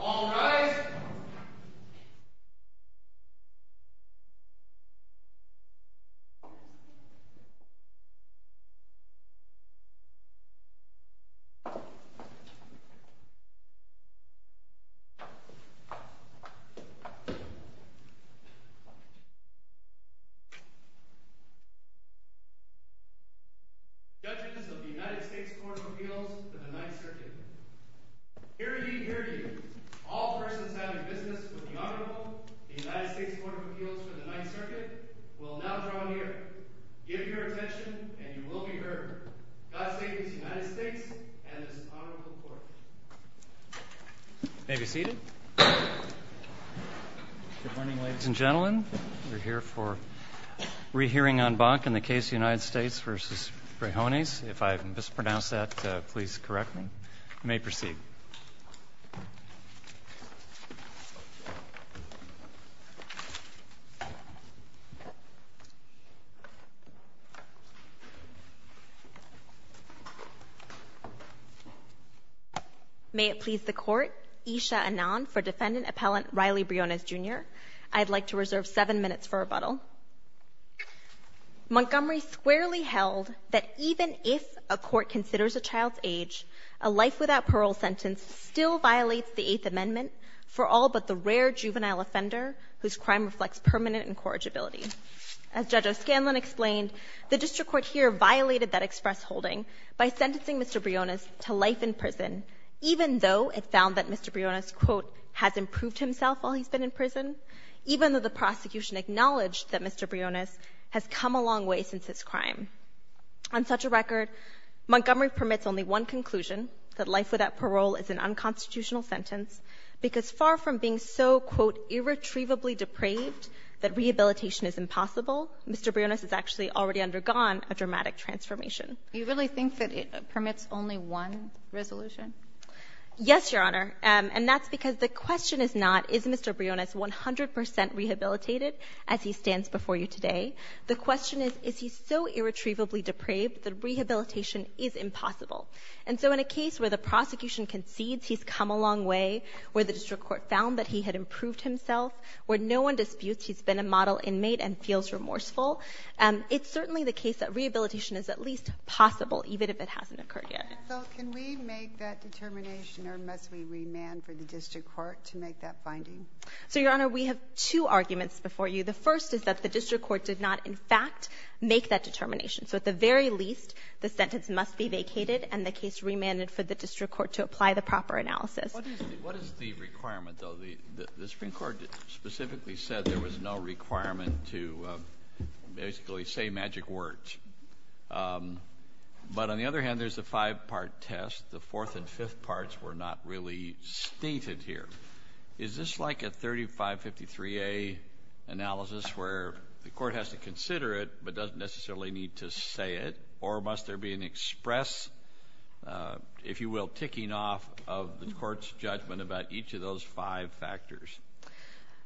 All rise. Judges of the United States Court of Appeals for the Ninth Circuit, hear ye, hear ye. All persons having business with the Honorable United States Court of Appeals for the Ninth Circuit, give your attention, and you will be heard. God save the United States and this Honorable Court. You may be seated. Good morning, ladies and gentlemen. We're here for rehearing en banc in the case United States v. Briones. If I've mispronounced that, please correct me. You may proceed. May it please the Court, Isha Anand for Defendant Appellant Riley Briones, Jr. I'd like to reserve seven minutes for rebuttal. Montgomery squarely held that even if a court considers a child's age, a life-without-parole sentence still violates the Eighth Amendment for all but the rare juvenile offender whose crime reflects permanent incorrigibility. As Judge O'Scanlon explained, the district court here violated that express holding by sentencing Mr. Briones to life in prison, even though it found that Mr. Briones, quote, has improved himself while he's been in prison, even though the prosecution acknowledged that Mr. Briones has come a long way since his crime. On such a record, Montgomery permits only one conclusion, that life without parole is an unconstitutional sentence, because far from being so, quote, irretrievably depraved that rehabilitation is impossible, Mr. Briones has actually already undergone a dramatic transformation. Do you really think that it permits only one resolution? Yes, Your Honor. And that's because the question is not, is Mr. Briones 100 percent rehabilitated as he stands before you today? The question is, is he so irretrievably depraved that rehabilitation is impossible? And so in a case where the prosecution concedes he's come a long way, where the district court found that he had improved himself, where no one disputes he's been a model inmate and feels remorseful, it's certainly the case that rehabilitation is at least possible, even if it hasn't occurred yet. So can we make that determination, or must we remand for the district court to make that finding? So, Your Honor, we have two arguments before you. The first is that the district court did not, in fact, make that determination. So at the very least, the sentence must be vacated and the case remanded for the district court to apply the proper analysis. What is the requirement, though? The Supreme Court specifically said there was no requirement to basically say magic words. But on the other hand, there's the five-part test. The fourth and fifth parts were not really stated here. Is this like a 3553A analysis where the court has to consider it but doesn't necessarily need to say it? Or must there be an express, if you will, ticking off of the court's judgment about each of those five factors?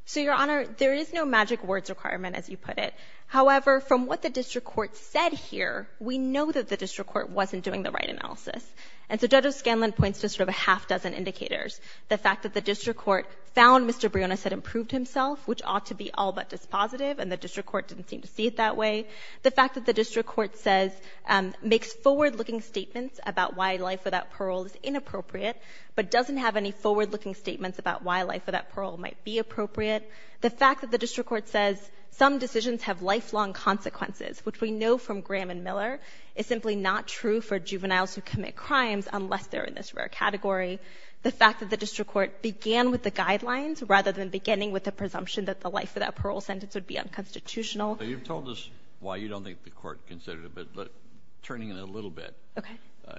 So, Your Honor, there is no magic words requirement, as you put it. However, from what the district court said here, we know that the district court wasn't doing the right analysis. And so Judge O'Scanlan points to sort of a half-dozen indicators. The fact that the district court found Mr. Briones had improved himself, which ought to be all but dispositive, and the district court didn't seem to see it that way. The fact that the district court says, makes forward-looking statements about why life without parole is inappropriate, but doesn't have any forward-looking statements about why life without parole might be appropriate. The fact that the district court says some decisions have lifelong consequences, which we know from Graham and Miller, is simply not true for juveniles who commit crimes unless they're in this rare category. The fact that the district court began with the guidelines rather than beginning with the presumption that the life without parole sentence would be unconstitutional. You've told us why you don't think the court considered it, but turning it a little bit. Okay.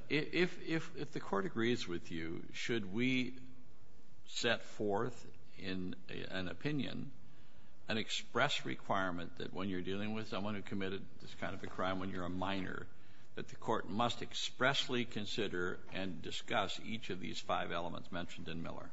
If the court agrees with you, should we set forth in an opinion an express requirement that when you're dealing with someone who committed this kind of a crime when you're a minor, that the court must expressly consider and discuss each of these five elements mentioned in Miller?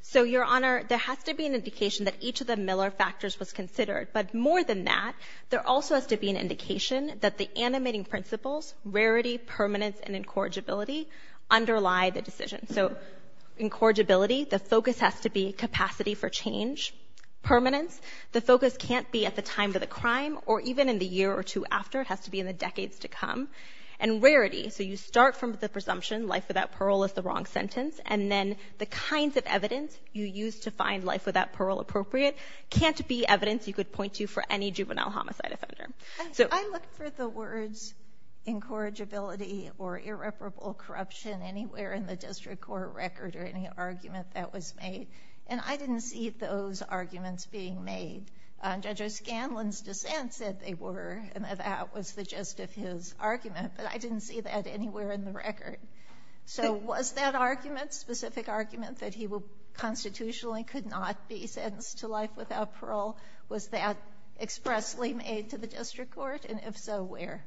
So, Your Honor, there has to be an indication that each of the Miller factors was considered. But more than that, there also has to be an indication that the animating principles, rarity, permanence, and incorrigibility, underlie the decision. So, incorrigibility, the focus has to be capacity for change. Permanence, the focus can't be at the time of the crime or even in the year or two after. It has to be in the decades to come. And rarity, so you start from the presumption life without parole is the wrong sentence. And then the kinds of evidence you use to find life without parole appropriate can't be evidence you could point to for any juvenile homicide offender. I looked for the words incorrigibility or irreparable corruption anywhere in the district court record or any argument that was made. And I didn't see those arguments being made. Judge O'Scanlan's dissent said they were and that that was the gist of his argument. But I didn't see that anywhere in the record. So, was that argument, specific argument, that he constitutionally could not be sentenced to life without parole? Was that expressly made to the district court? And if so, where?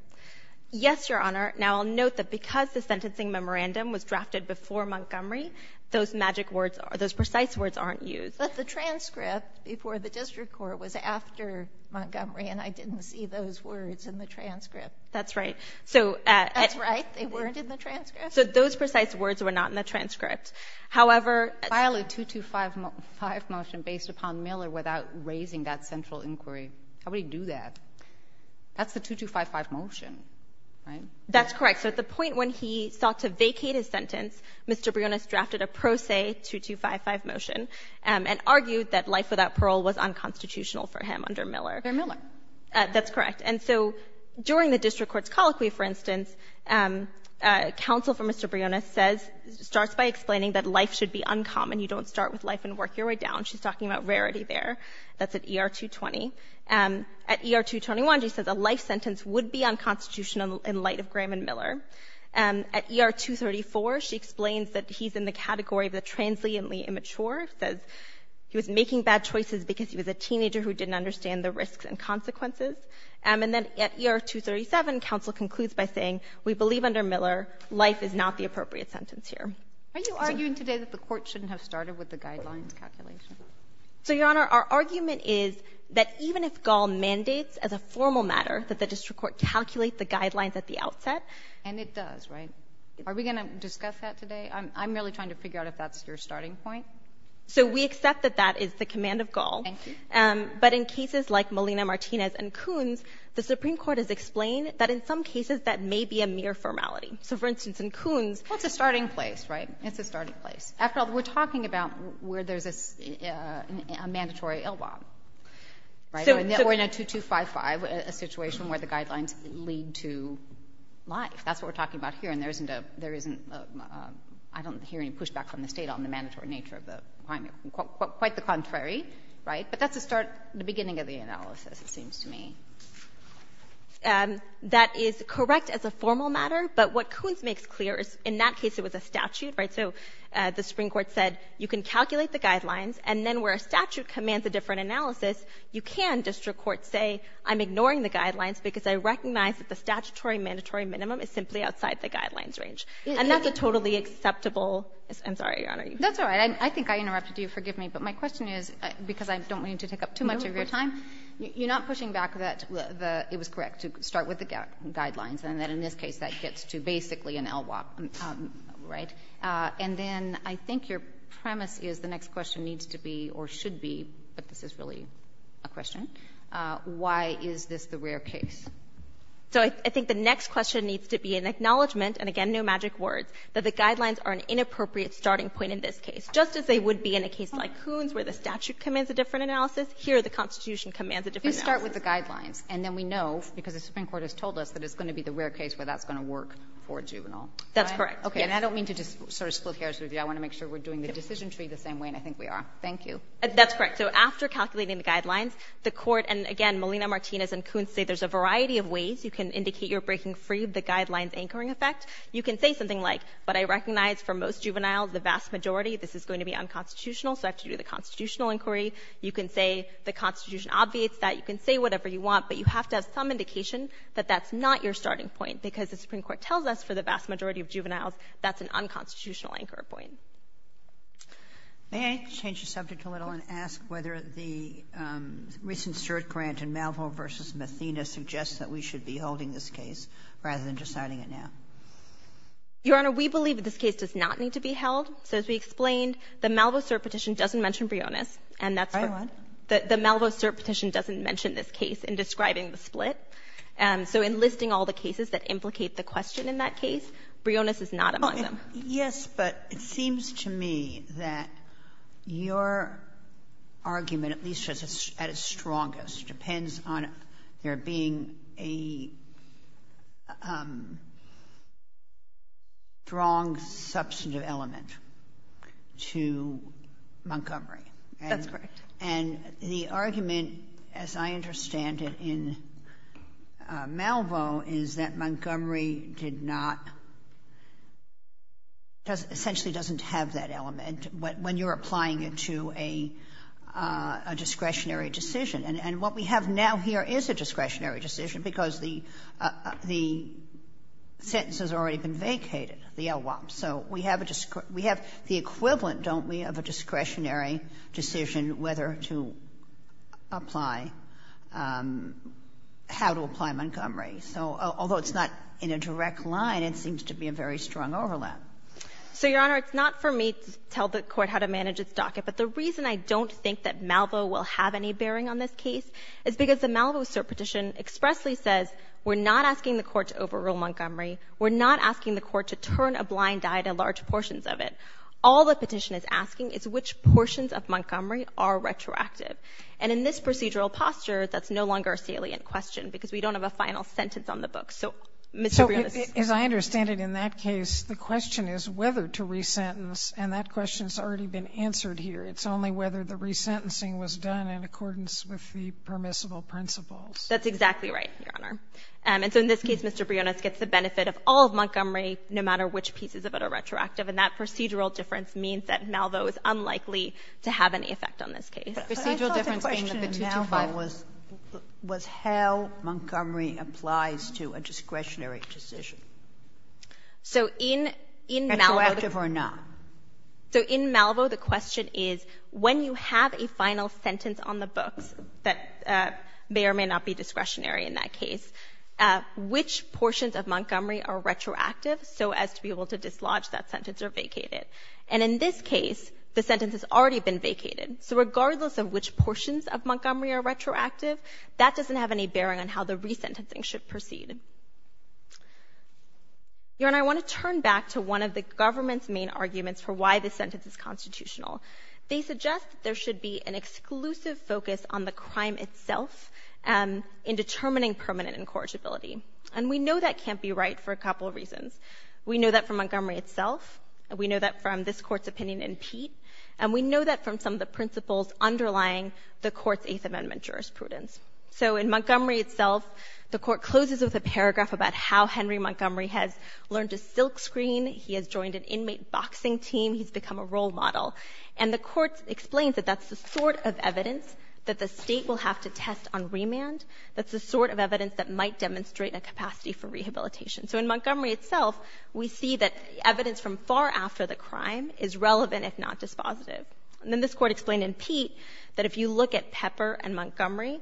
Yes, Your Honor. Now, I'll note that because the sentencing memorandum was drafted before Montgomery, those magic words, those precise words aren't used. But the transcript before the district court was after Montgomery, and I didn't see those words in the transcript. That's right. That's right? They weren't in the transcript? So, those precise words were not in the transcript. However, You can't file a 2255 motion based upon Miller without raising that central inquiry. How would he do that? That's the 2255 motion, right? That's correct. So at the point when he sought to vacate his sentence, Mr. Brionis drafted a pro se 2255 motion and argued that life without parole was unconstitutional for him under Miller. Under Miller. That's correct. And so during the district court's colloquy, for instance, counsel for Mr. Brionis says, starts by explaining that life should be uncommon. You don't start with life and work your way down. She's talking about rarity there. That's at ER 220. At ER 221, she says a life sentence would be unconstitutional in light of Graham and Miller. At ER 234, she explains that he's in the category of the transiently immature, says he was making bad choices because he was a teenager who didn't understand the risks and consequences. And then at ER 237, counsel concludes by saying we believe under Miller life is not the appropriate sentence here. Are you arguing today that the Court shouldn't have started with the guidelines calculation? So, Your Honor, our argument is that even if Gall mandates as a formal matter that the district court calculate the guidelines at the outset. And it does, right? Are we going to discuss that today? I'm really trying to figure out if that's your starting point. So we accept that that is the command of Gall. Thank you. But in cases like Molina-Martinez and Coons, the Supreme Court has explained that in some cases that may be a mere formality. So, for instance, in Coons. Well, it's a starting place, right? It's a starting place. After all, we're talking about where there's a mandatory ill bomb, right? Or in a 2255, a situation where the guidelines lead to life. That's what we're talking about here. And there isn't a – I don't hear any pushback from the State on the mandatory nature of the – quite the contrary, right? But that's the start – the beginning of the analysis, it seems to me. That is correct as a formal matter, but what Coons makes clear is in that case it was a statute, right? So the Supreme Court said you can calculate the guidelines, and then where a statute commands a different analysis, you can, district courts say, I'm ignoring the guidelines because I recognize that the statutory mandatory minimum is simply outside the guidelines range. And that's a totally acceptable – I'm sorry, Your Honor. That's all right. I think I interrupted you. Forgive me. But my question is, because I don't want you to take up too much of your time, you're not pushing back that it was correct to start with the guidelines, and that in this case that gets to basically an LWOP, right? And then I think your premise is the next question needs to be, or should be, but this is really a question, why is this the rare case? So I think the next question needs to be an acknowledgement, and again no magic words, that the guidelines are an inappropriate starting point in this case, just as they would be in a case like Coons where the statute commands a different analysis. Here the Constitution commands a different analysis. You start with the guidelines, and then we know, because the Supreme Court has told us, that it's going to be the rare case where that's going to work for a juvenile. That's correct. Okay. And I don't mean to just sort of split hairs with you. I want to make sure we're doing the decision tree the same way, and I think we are. Thank you. That's correct. So after calculating the guidelines, the Court, and again, Melina Martinez and Coons say there's a variety of ways you can indicate you're breaking free of the guidelines anchoring effect. You can say something like, but I recognize for most juveniles, the vast majority, this is going to be unconstitutional, so I have to do the constitutional inquiry. You can say the Constitution obviates that. You can say whatever you want, but you have to have some indication that that's not your starting point, because the Supreme Court tells us for the vast majority of juveniles that's an unconstitutional anchor point. May I change the subject a little and ask whether the recent cert grant in Malvo v. Mathena suggests that we should be holding this case rather than deciding it now? Your Honor, we believe that this case does not need to be held. So as we explained, the Malvo cert petition doesn't mention Brionis. And that's what the Malvo cert petition doesn't mention this case in describing the split. And so in listing all the cases that implicate the question in that case, Brionis is not among them. Yes, but it seems to me that your argument, at least at its strongest, depends on there being a strong substantive element to Montgomery. That's correct. And the argument, as I understand it, in Malvo is that Montgomery did not, essentially doesn't have that element when you're applying it to a discretionary decision. And what we have now here is a discretionary decision because the sentence has already been vacated, the LWOP. So we have the equivalent, don't we, of a discretionary decision whether to apply how to apply Montgomery. So although it's not in a direct line, it seems to be a very strong overlap. So, Your Honor, it's not for me to tell the Court how to manage its docket. But the reason I don't think that Malvo will have any bearing on this case is because the Malvo cert petition expressly says we're not asking the Court to overrule Montgomery, we're not asking the Court to turn a blind eye to large portions of it. All the petition is asking is which portions of Montgomery are retroactive. And in this procedural posture, that's no longer a salient question because we don't have a final sentence on the book. So, Mr. Brionis. So as I understand it in that case, the question is whether to resentence, and that resentencing was done in accordance with the permissible principles. That's exactly right, Your Honor. And so in this case, Mr. Brionis gets the benefit of all of Montgomery, no matter which pieces of it are retroactive, and that procedural difference means that Malvo is unlikely to have any effect on this case. But I thought the question in Malvo was how Montgomery applies to a discretionary decision. Retroactive or not? So in Malvo, the question is when you have a final sentence on the books that may or may not be discretionary in that case, which portions of Montgomery are retroactive so as to be able to dislodge that sentence or vacate it? And in this case, the sentence has already been vacated. So regardless of which portions of Montgomery are retroactive, that doesn't have any bearing on how the resentencing should proceed. Your Honor, I want to turn back to one of the government's main arguments for why this sentence is constitutional. They suggest that there should be an exclusive focus on the crime itself in determining permanent incorrigibility. And we know that can't be right for a couple of reasons. We know that from Montgomery itself. We know that from this Court's opinion in Pete. And we know that from some of the principles underlying the Court's Eighth Amendment jurisprudence. So in Montgomery itself, the Court closes with a paragraph about how Henry Montgomery has learned to silkscreen. He has joined an inmate boxing team. He's become a role model. And the Court explains that that's the sort of evidence that the State will have to test on remand. That's the sort of evidence that might demonstrate a capacity for rehabilitation. So in Montgomery itself, we see that evidence from far after the crime is relevant, if not dispositive. And then this Court explained in Pete that if you look at Pepper and Montgomery,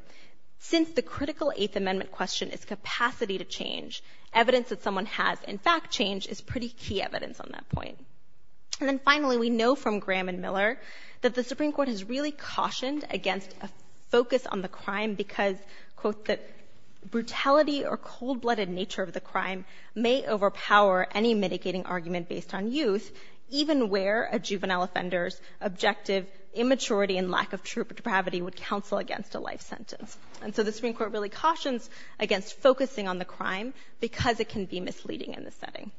since the critical Eighth Amendment question is capacity to change, evidence that someone has in fact changed is pretty key evidence on that point. And then finally, we know from Graham and Miller that the Supreme Court has really cautioned against a focus on the crime because, quote, the brutality or cold-blooded nature of the crime may overpower any mitigating argument based on youth, even where a juvenile offender's objective immaturity and lack of true depravity would counsel against a life sentence. And so the Supreme Court really cautions against focusing on the crime because it can be misleading in this setting.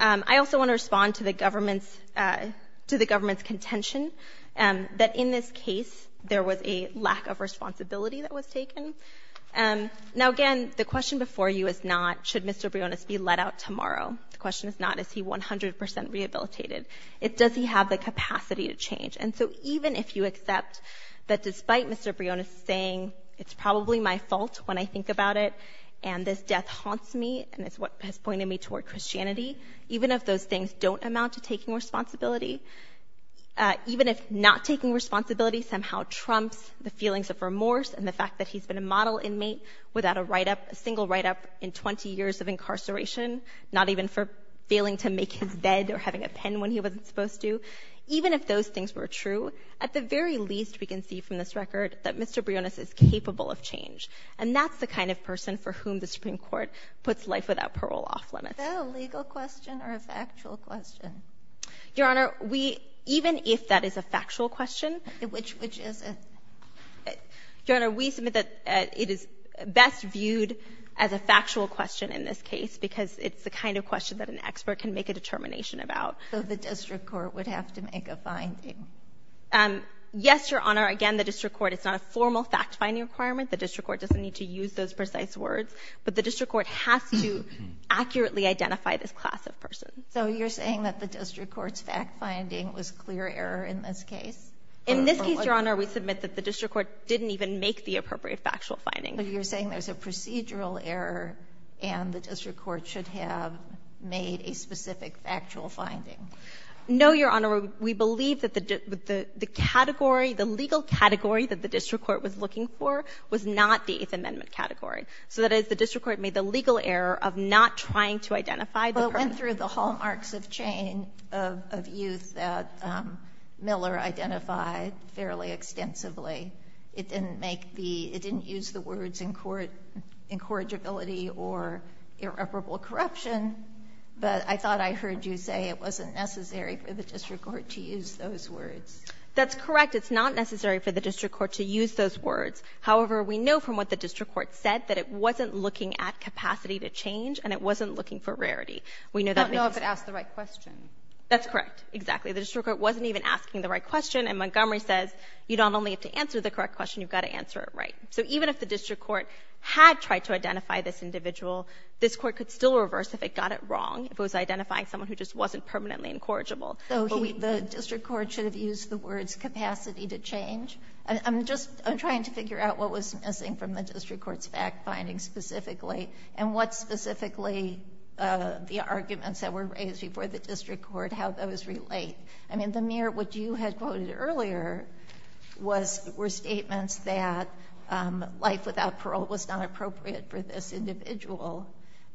I also want to respond to the government's — to the government's contention that in this case there was a lack of responsibility that was taken. Now, again, the question before you is not should Mr. Briones be let out tomorrow. The question is not is he 100 percent rehabilitated. It's does he have the capacity to change. And so even if you accept that despite Mr. Briones saying it's probably my fault when I think about it and this death haunts me and it's what has pointed me toward Christianity, even if those things don't amount to taking responsibility, even if not taking responsibility somehow trumps the feelings of remorse and the fact that he's been a model inmate without a write-up, a single write-up in 20 years of incarceration, not even for failing to make his bed or having a pen when he wasn't supposed to, even if those things were true, at the very least we can see from this record that Mr. Briones is capable of change. And that's the kind of person for whom the Supreme Court puts life without parole off limits. Ginsburg. Is that a legal question or a factual question? Saharsky. Your Honor, we — even if that is a factual question — Ginsburg. Which is it? Saharsky. Your Honor, we submit that it is best viewed as a factual question in this case because it's the kind of question that an expert can make a determination about. Ginsburg. So the district court would have to make a finding? Saharsky. Yes, Your Honor. Again, the district court, it's not a formal fact-finding requirement. The district court doesn't need to use those precise words, but the district court has to accurately identify this class of person. Ginsburg. So you're saying that the district court's fact-finding was clear error in this case? Saharsky. In this case, Your Honor, we submit that the district court didn't even make the appropriate factual finding. Ginsburg. So you're saying there's a procedural error and the district court should have made a specific factual finding? Saharsky. No, Your Honor. We believe that the category, the legal category that the district court was looking for was not the Eighth Amendment category. So that is, the district court made the legal error of not trying to identify the person. We've gone through the hallmarks of chain of youth that Miller identified fairly extensively. It didn't make the, it didn't use the words incorrigibility or irreparable corruption, but I thought I heard you say it wasn't necessary for the district court to use those words. Saharsky. That's correct. It's not necessary for the district court to use those words. However, we know from what the district court said that it wasn't looking at capacity to change and it wasn't looking for rarity. We know that because. I don't know if it asked the right question. Saharsky. That's correct. Exactly. The district court wasn't even asking the right question, and Montgomery says you don't only have to answer the correct question, you've got to answer it right. So even if the district court had tried to identify this individual, this court could still reverse if it got it wrong, if it was identifying someone who just wasn't permanently incorrigible. So he, the district court should have used the words capacity to change? I'm just, I'm trying to figure out what was missing from the district court's fact findings specifically and what specifically the arguments that were raised before the district court, how those relate. I mean, the mere, what you had quoted earlier was, were statements that life without parole was not appropriate for this individual.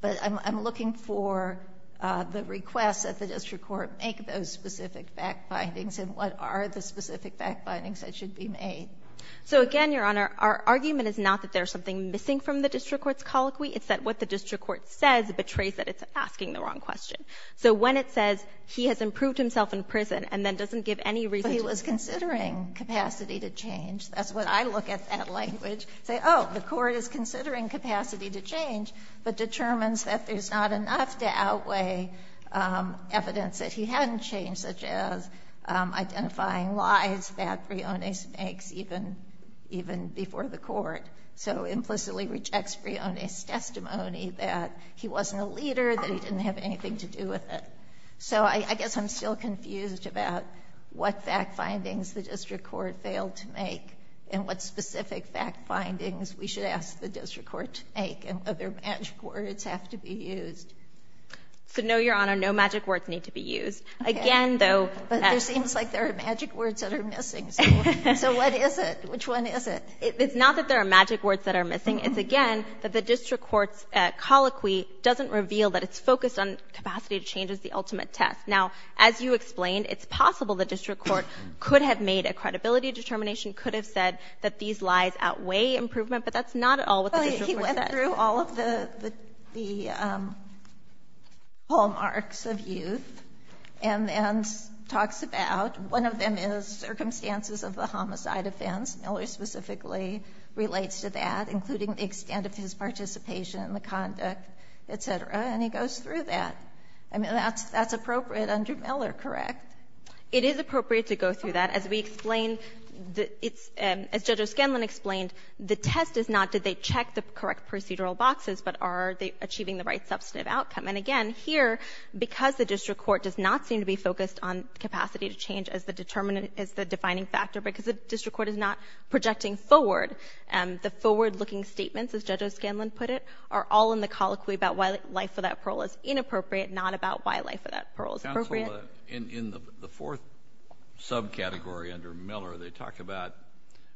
But I'm looking for the request that the district court make those specific fact findings and what are the specific fact findings that should be made. Saharsky. So again, Your Honor, our argument is not that there's something missing from the district court's colloquy. It's that what the district court says betrays that it's asking the wrong question. So when it says he has improved himself in prison and then doesn't give any reason to change. But he was considering capacity to change. That's what I look at that language, say, oh, the court is considering capacity to change, but determines that there's not enough to outweigh evidence that he hadn't changed, such as identifying lies that Briones makes even before the court. So implicitly rejects Briones' testimony that he wasn't a leader, that he didn't have anything to do with it. So I guess I'm still confused about what fact findings the district court failed to make and what specific fact findings we should ask the district court to make and whether magic words have to be used. So no, Your Honor, no magic words need to be used. Again, though. But there seems like there are magic words that are missing. So what is it? Which one is it? It's not that there are magic words that are missing. It's, again, that the district court's colloquy doesn't reveal that it's focused on capacity to change as the ultimate test. Now, as you explained, it's possible the district court could have made a credibility determination, could have said that these lies outweigh improvement, but that's not at all what the district court said. Sotomayor, he went through all of the hallmarks of youth and talks about one of them is circumstances of the homicide offense. Miller specifically relates to that, including the extent of his participation in the conduct, et cetera, and he goes through that. I mean, that's appropriate under Miller, correct? It is appropriate to go through that. As we explained, it's as Judge O'Scanlan explained, the test is not did they check the correct procedural boxes, but are they achieving the right substantive outcome? And again, here, because the district court does not seem to be focused on capacity to change as the defining factor, because the district court is not projecting forward, the forward-looking statements, as Judge O'Scanlan put it, are all in the colloquy about why life without parole is inappropriate, not about why life without parole is appropriate. Counsel, in the fourth subcategory under Miller, they talk about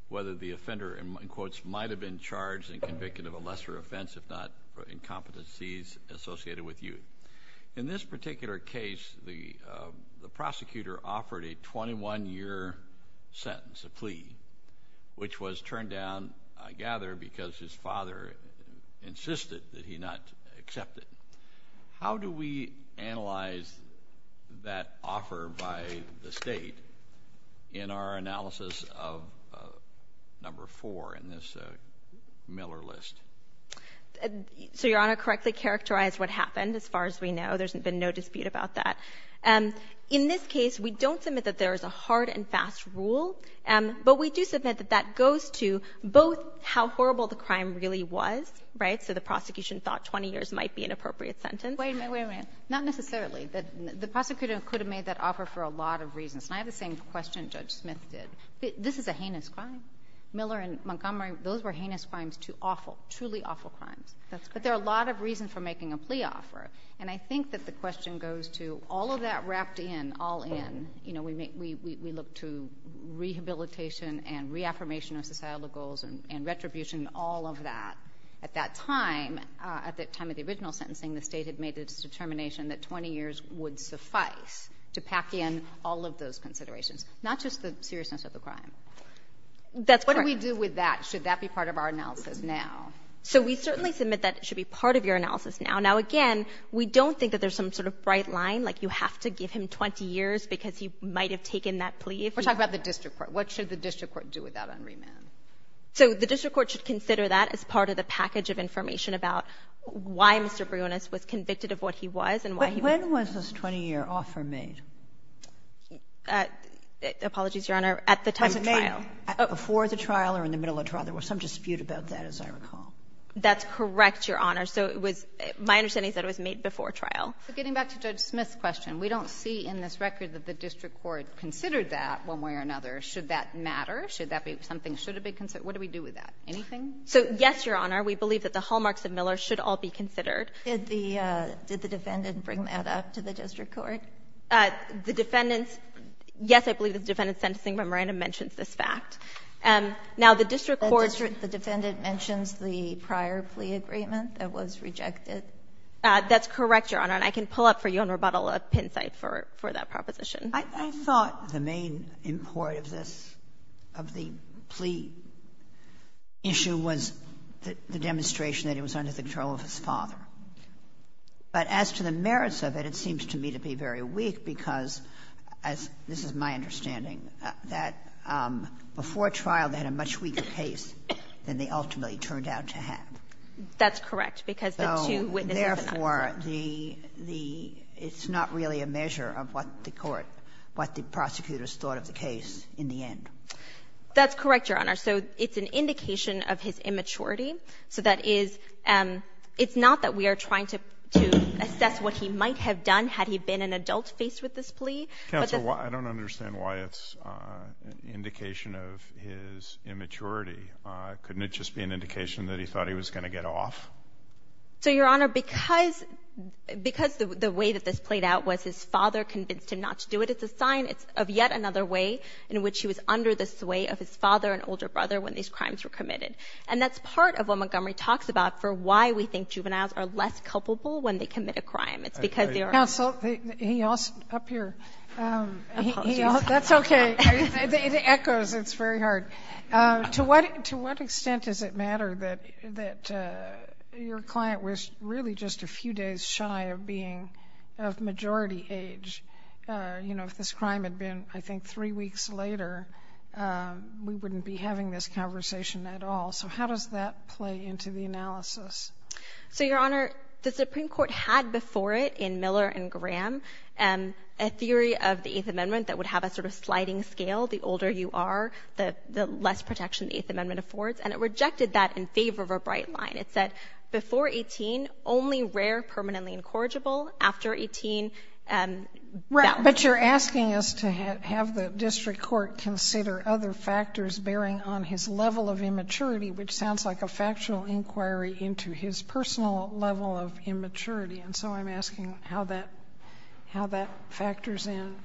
whether the offender might have been charged and convicted of a lesser offense, if not for incompetencies associated with youth. In this particular case, the prosecutor offered a 21-year sentence, a plea, which was turned down, I gather, because his father insisted that he not accept it. How do we analyze that offer by the State in our analysis of number four in this Miller list? So, Your Honor, to correctly characterize what happened, as far as we know, there's been no dispute about that. In this case, we don't submit that there is a hard and fast rule, but we do submit that that goes to both how horrible the crime really was, right, so the prosecution thought 20 years might be an appropriate sentence. Wait a minute, wait a minute. Not necessarily. The prosecutor could have made that offer for a lot of reasons. And I have the same question Judge Smith did. This is a heinous crime. Miller and Montgomery, those were heinous crimes to awful, truly awful crimes. That's correct. But there are a lot of reasons for making a plea offer. And I think that the question goes to all of that wrapped in, all in, you know, we look to rehabilitation and reaffirmation of societal goals and retribution, all of that. At that time, at the time of the original sentencing, the State had made its determination that 20 years would suffice to pack in all of those considerations, not just the seriousness of the crime. That's correct. What do we do with that? Should that be part of our analysis now? So we certainly submit that it should be part of your analysis now. Now, again, we don't think that there's some sort of bright line, like you have to give him 20 years because he might have taken that plea. We're talking about the district court. What should the district court do with that on remand? So the district court should consider that as part of the package of information about why Mr. Brionis was convicted of what he was and why he was not. But when was this 20-year offer made? Apologies, Your Honor. At the time of the trial. Was it made before the trial or in the middle of the trial? There was some dispute about that, as I recall. That's correct, Your Honor. So it was my understanding is that it was made before trial. But getting back to Judge Smith's question, we don't see in this record that the district court considered that one way or another. Should that matter? Should that be something that should be considered? What do we do with that? Anything? So, yes, Your Honor. We believe that the hallmarks of Miller should all be considered. Did the defendant bring that up to the district court? The defendant's, yes, I believe the defendant's sentencing memorandum mentions this fact. Now, the district court. The defendant mentions the prior plea agreement that was rejected. That's correct, Your Honor. And I can pull up for you on rebuttal a pin site for that proposition. I thought the main import of this, of the plea issue, was the demonstration that it was under the control of his father. But as to the merits of it, it seems to me to be very weak because, as this is my understanding, that before trial they had a much weaker case than they ultimately turned out to have. That's correct, because the two witnesses in that case. It's not really a measure of what the court, what the prosecutors thought of the case in the end. That's correct, Your Honor. So it's an indication of his immaturity. So that is, it's not that we are trying to assess what he might have done had he been an adult faced with this plea. Counsel, I don't understand why it's an indication of his immaturity. Couldn't it just be an indication that he thought he was going to get off? So, Your Honor, because the way that this played out was his father convinced him not to do it, it's a sign of yet another way in which he was under the sway of his father and older brother when these crimes were committed. And that's part of what Montgomery talks about for why we think juveniles are less culpable when they commit a crime. It's because they are. Counsel, he also, up here. Apologies. That's okay. It echoes. It's very hard. To what extent does it matter that your client was really just a few days shy of being of majority age? You know, if this crime had been, I think, three weeks later, we wouldn't be having this conversation at all. So how does that play into the analysis? So, Your Honor, the Supreme Court had before it, in Miller and Graham, a theory of the sliding scale. The older you are, the less protection the Eighth Amendment affords. And it rejected that in favor of a bright line. It said, before 18, only rare, permanently incorrigible. After 18, that was it. But you're asking us to have the district court consider other factors bearing on his level of immaturity, which sounds like a factual inquiry into his personal level of immaturity. And so I'm asking how that factors in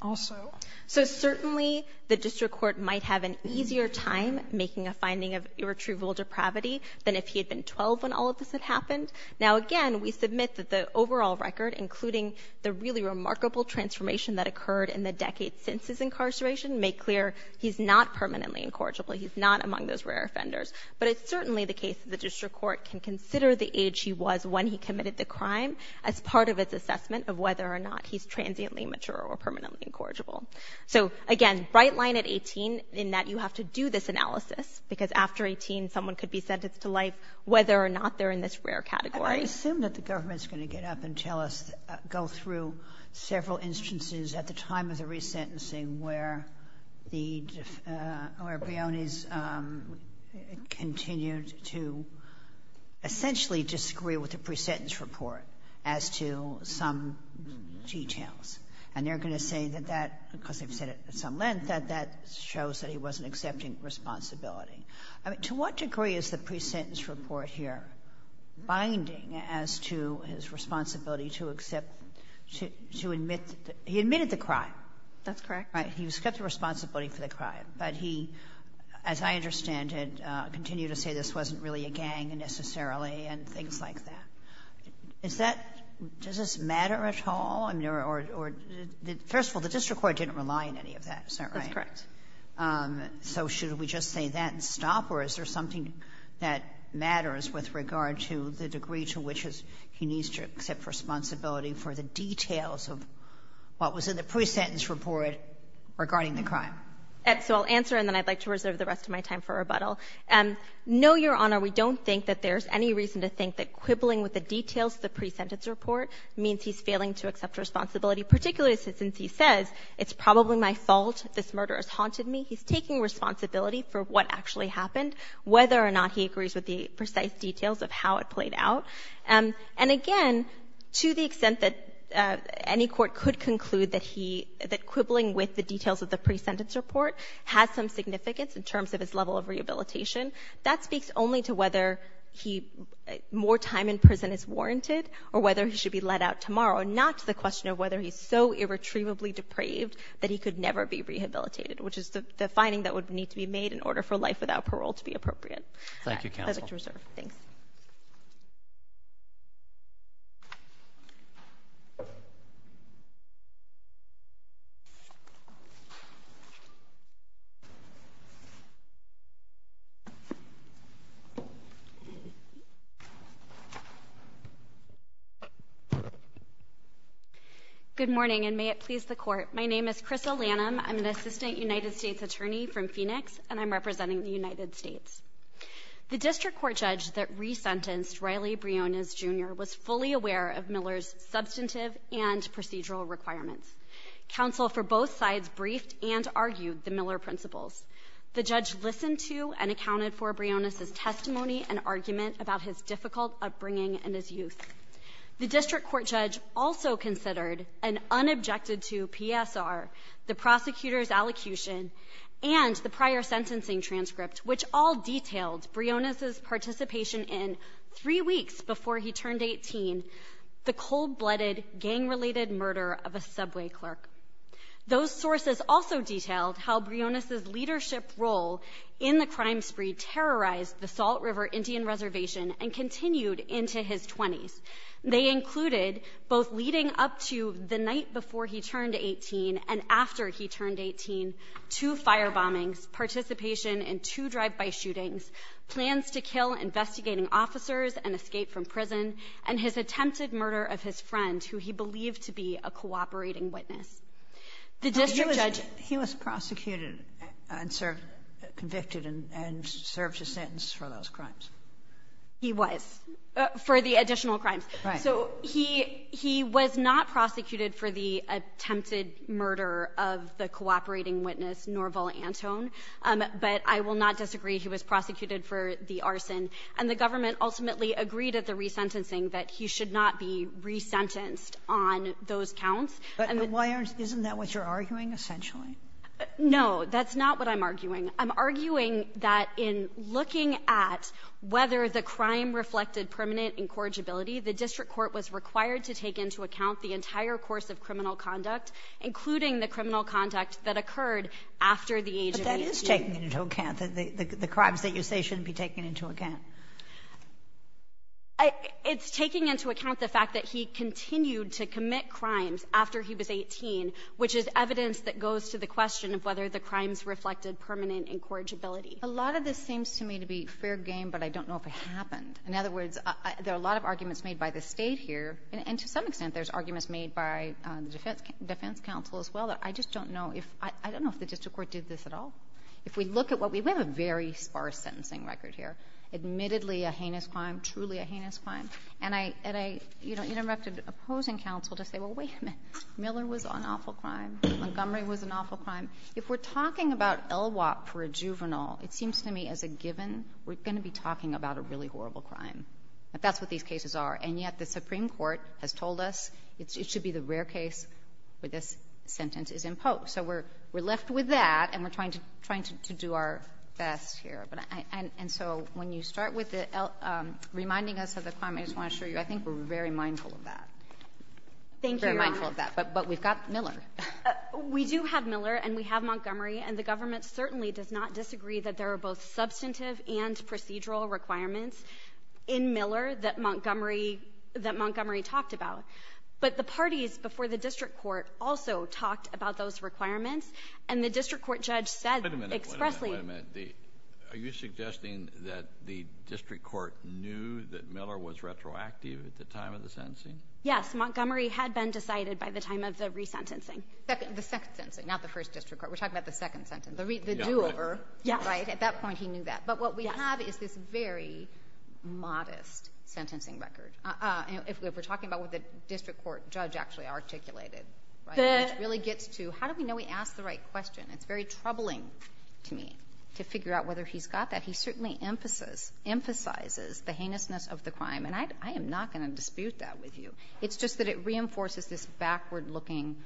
also. So certainly, the district court might have an easier time making a finding of irretrievable depravity than if he had been 12 when all of this had happened. Now, again, we submit that the overall record, including the really remarkable transformation that occurred in the decades since his incarceration, make clear he's not permanently incorrigible. He's not among those rare offenders. But it's certainly the case that the district court can consider the age he was when he committed the crime as part of its assessment of whether or not he's transiently mature or permanently incorrigible. So, again, bright line at 18 in that you have to do this analysis, because after 18, someone could be sentenced to life, whether or not they're in this rare category. I assume that the government's going to get up and tell us, go through several instances at the time of the resentencing where the, where Bione's continued to essentially disagree with the presentence report as to some details. And they're going to say that that, because they've said it at some length, that that shows that he wasn't accepting responsibility. I mean, to what degree is the presentence report here binding as to his responsibility to accept, to admit that he admitted the crime? That's correct. Right. He was kept to responsibility for the crime. But he, as I understand it, continued to say this wasn't really a gang necessarily and things like that. Is that, does this matter at all? I mean, or, first of all, the district court didn't rely on any of that, is that right? That's correct. So should we just say that and stop? Or is there something that matters with regard to the degree to which he needs to accept responsibility for the details of what was in the presentence report regarding the crime? So I'll answer, and then I'd like to reserve the rest of my time for rebuttal. No, Your Honor, we don't think that there's any reason to think that quibbling with the details of the presentence report means he's failing to accept responsibility, particularly since he says it's probably my fault, this murder has haunted me. He's taking responsibility for what actually happened, whether or not he agrees with the precise details of how it played out. And, again, to the extent that any court could conclude that he, that quibbling with the details of the presentence report has some significance in terms of his level of rehabilitation, that speaks only to whether more time in prison is warranted or whether he should be let out tomorrow, not to the question of whether he's so irretrievably depraved that he could never be rehabilitated, which is the finding that would need to be made in order for life without parole to be appropriate. Thank you, counsel. I'd like to reserve. Thanks. Good morning, and may it please the court. My name is Chris O'Lanham. I'm an assistant United States attorney from Phoenix, and I'm representing the United States. The district court judge that resentenced Riley Briones, Jr. was fully aware of Miller's substantive and procedural requirements. Counsel for both sides briefed and argued the Miller principles. The judge listened to and accounted for Briones' testimony and argument about his difficult upbringing and his youth. The district court judge also considered and unobjected to PSR, the prosecutor's allocution, and the prior sentencing transcript, which all detailed Briones' participation in, three weeks before he turned 18, the cold-blooded, gang-related murder of a subway clerk. Those sources also detailed how Briones' leadership role in the crime spree terrorized the Salt River Indian Reservation and continued into his 20s. They included, both leading up to the night before he turned 18 and after he turned 18, two fire bombings, participation in two drive-by shootings, plans to kill investigating officers and escape from prison, and his attempted murder of his friend, who he believed to be a cooperating witness. The district judge — But he was — he was prosecuted and served — convicted and served his sentence for those crimes. He was, for the additional crimes. Right. So he — he was not prosecuted for the attempted murder of the cooperating witness, Norval Antone. But I will not disagree. He was prosecuted for the arson. And the government ultimately agreed at the resentencing that he should not be resentenced on those counts. But why aren't — isn't that what you're arguing, essentially? No. That's not what I'm arguing. I'm arguing that in looking at whether the crime reflected permanent incorrigibility, the district court was required to take into account the entire course of criminal conduct, including the criminal conduct that occurred after the age of 18. But that is taken into account, the crimes that you say shouldn't be taken into account. It's taking into account the fact that he continued to commit crimes after he was 18, which is evidence that goes to the question of whether the crimes reflected permanent incorrigibility. A lot of this seems to me to be fair game, but I don't know if it happened. In other words, there are a lot of arguments made by the State here, and to some extent, there's arguments made by the defense counsel as well, that I just don't know if — I don't know if the district court did this at all. If we look at what we — we have a very sparse sentencing record here, admittedly a heinous crime, truly a heinous crime. And I — and I, you know, interrupted opposing counsel to say, well, wait a minute. Miller was an awful crime. Montgomery was an awful crime. If we're talking about LWOP for a juvenile, it seems to me as a given, we're going to be talking about a really horrible crime. That's what these cases are. And yet the Supreme Court has told us it should be the rare case where this sentence is imposed. So we're left with that, and we're trying to do our best here. And so when you start with the — reminding us of the crime, I just want to assure you, I think we're very mindful of that. Thank you. Very mindful of that. But we've got Miller. We do have Miller and we have Montgomery, and the government certainly does not disagree that there are both substantive and procedural requirements in Miller that Montgomery — that Montgomery talked about. But the parties before the district court also talked about those requirements, and the district court judge said expressly — Wait a minute. Wait a minute. Wait a minute. Are you suggesting that the district court knew that Miller was retroactive at the time of the sentencing? Yes. Montgomery had been decided by the time of the resentencing. The second sentencing, not the first district court. We're talking about the second sentence. The do-over. Yes. Right? At that point, he knew that. But what we have is this very modest sentencing record. If we're talking about what the district court judge actually articulated, which really gets to how do we know he asked the right question? It's very troubling to me to figure out whether he's got that. He certainly emphasizes the heinousness of the crime, and I am not going to dispute that with you. It's just that it reinforces this backward-looking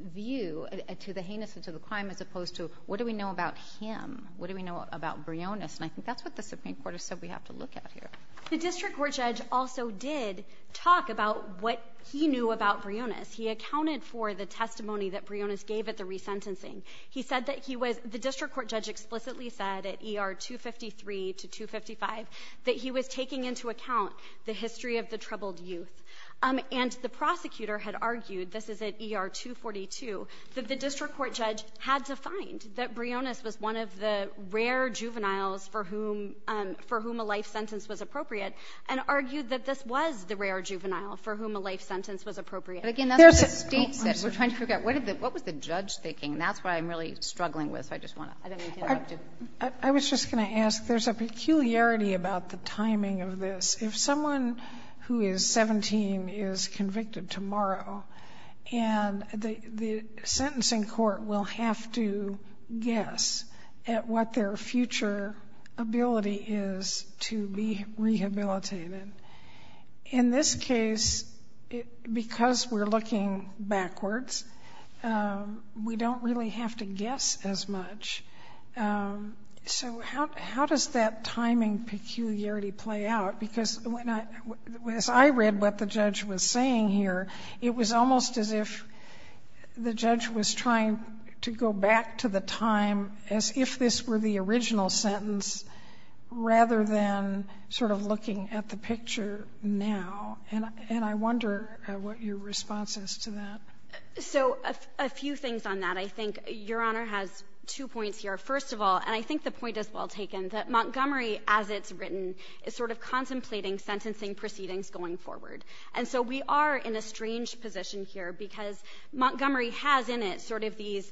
view to the heinousness of the crime as opposed to what do we know about him? What do we know about Briones? And I think that's what the Supreme Court has said we have to look at here. The district court judge also did talk about what he knew about Briones. He accounted for the testimony that Briones gave at the resentencing. He said that he was the district court judge explicitly said at ER 253 to 255 that he was taking into account the history of the troubled youth. And the prosecutor had argued, this is at ER 242, that the district court judge had to find that Briones was one of the rare juveniles for whom a life sentence was appropriate and argued that this was the rare juvenile for whom a life sentence was appropriate. But again, that's what the State said. We're trying to figure out what was the judge thinking? And that's what I'm really struggling with, so I just want to add anything I have to. I was just going to ask, there's a peculiarity about the timing of this. If someone who is 17 is convicted tomorrow, and the sentencing court will have to guess at what their future ability is to be rehabilitated. In this case, because we're looking backwards, we don't really have to guess as much. So how does that timing peculiarity play out? Because as I read what the judge was saying here, it was almost as if the judge was trying to go back to the time as if this were the original sentence, rather than sort of looking at the picture now. And I wonder what your response is to that. So a few things on that. I think Your Honor has two points here. First of all, and I think the point is well taken, that Montgomery, as it's written, is sort of contemplating sentencing proceedings going forward. And so we are in a strange position here, because Montgomery has in it sort of these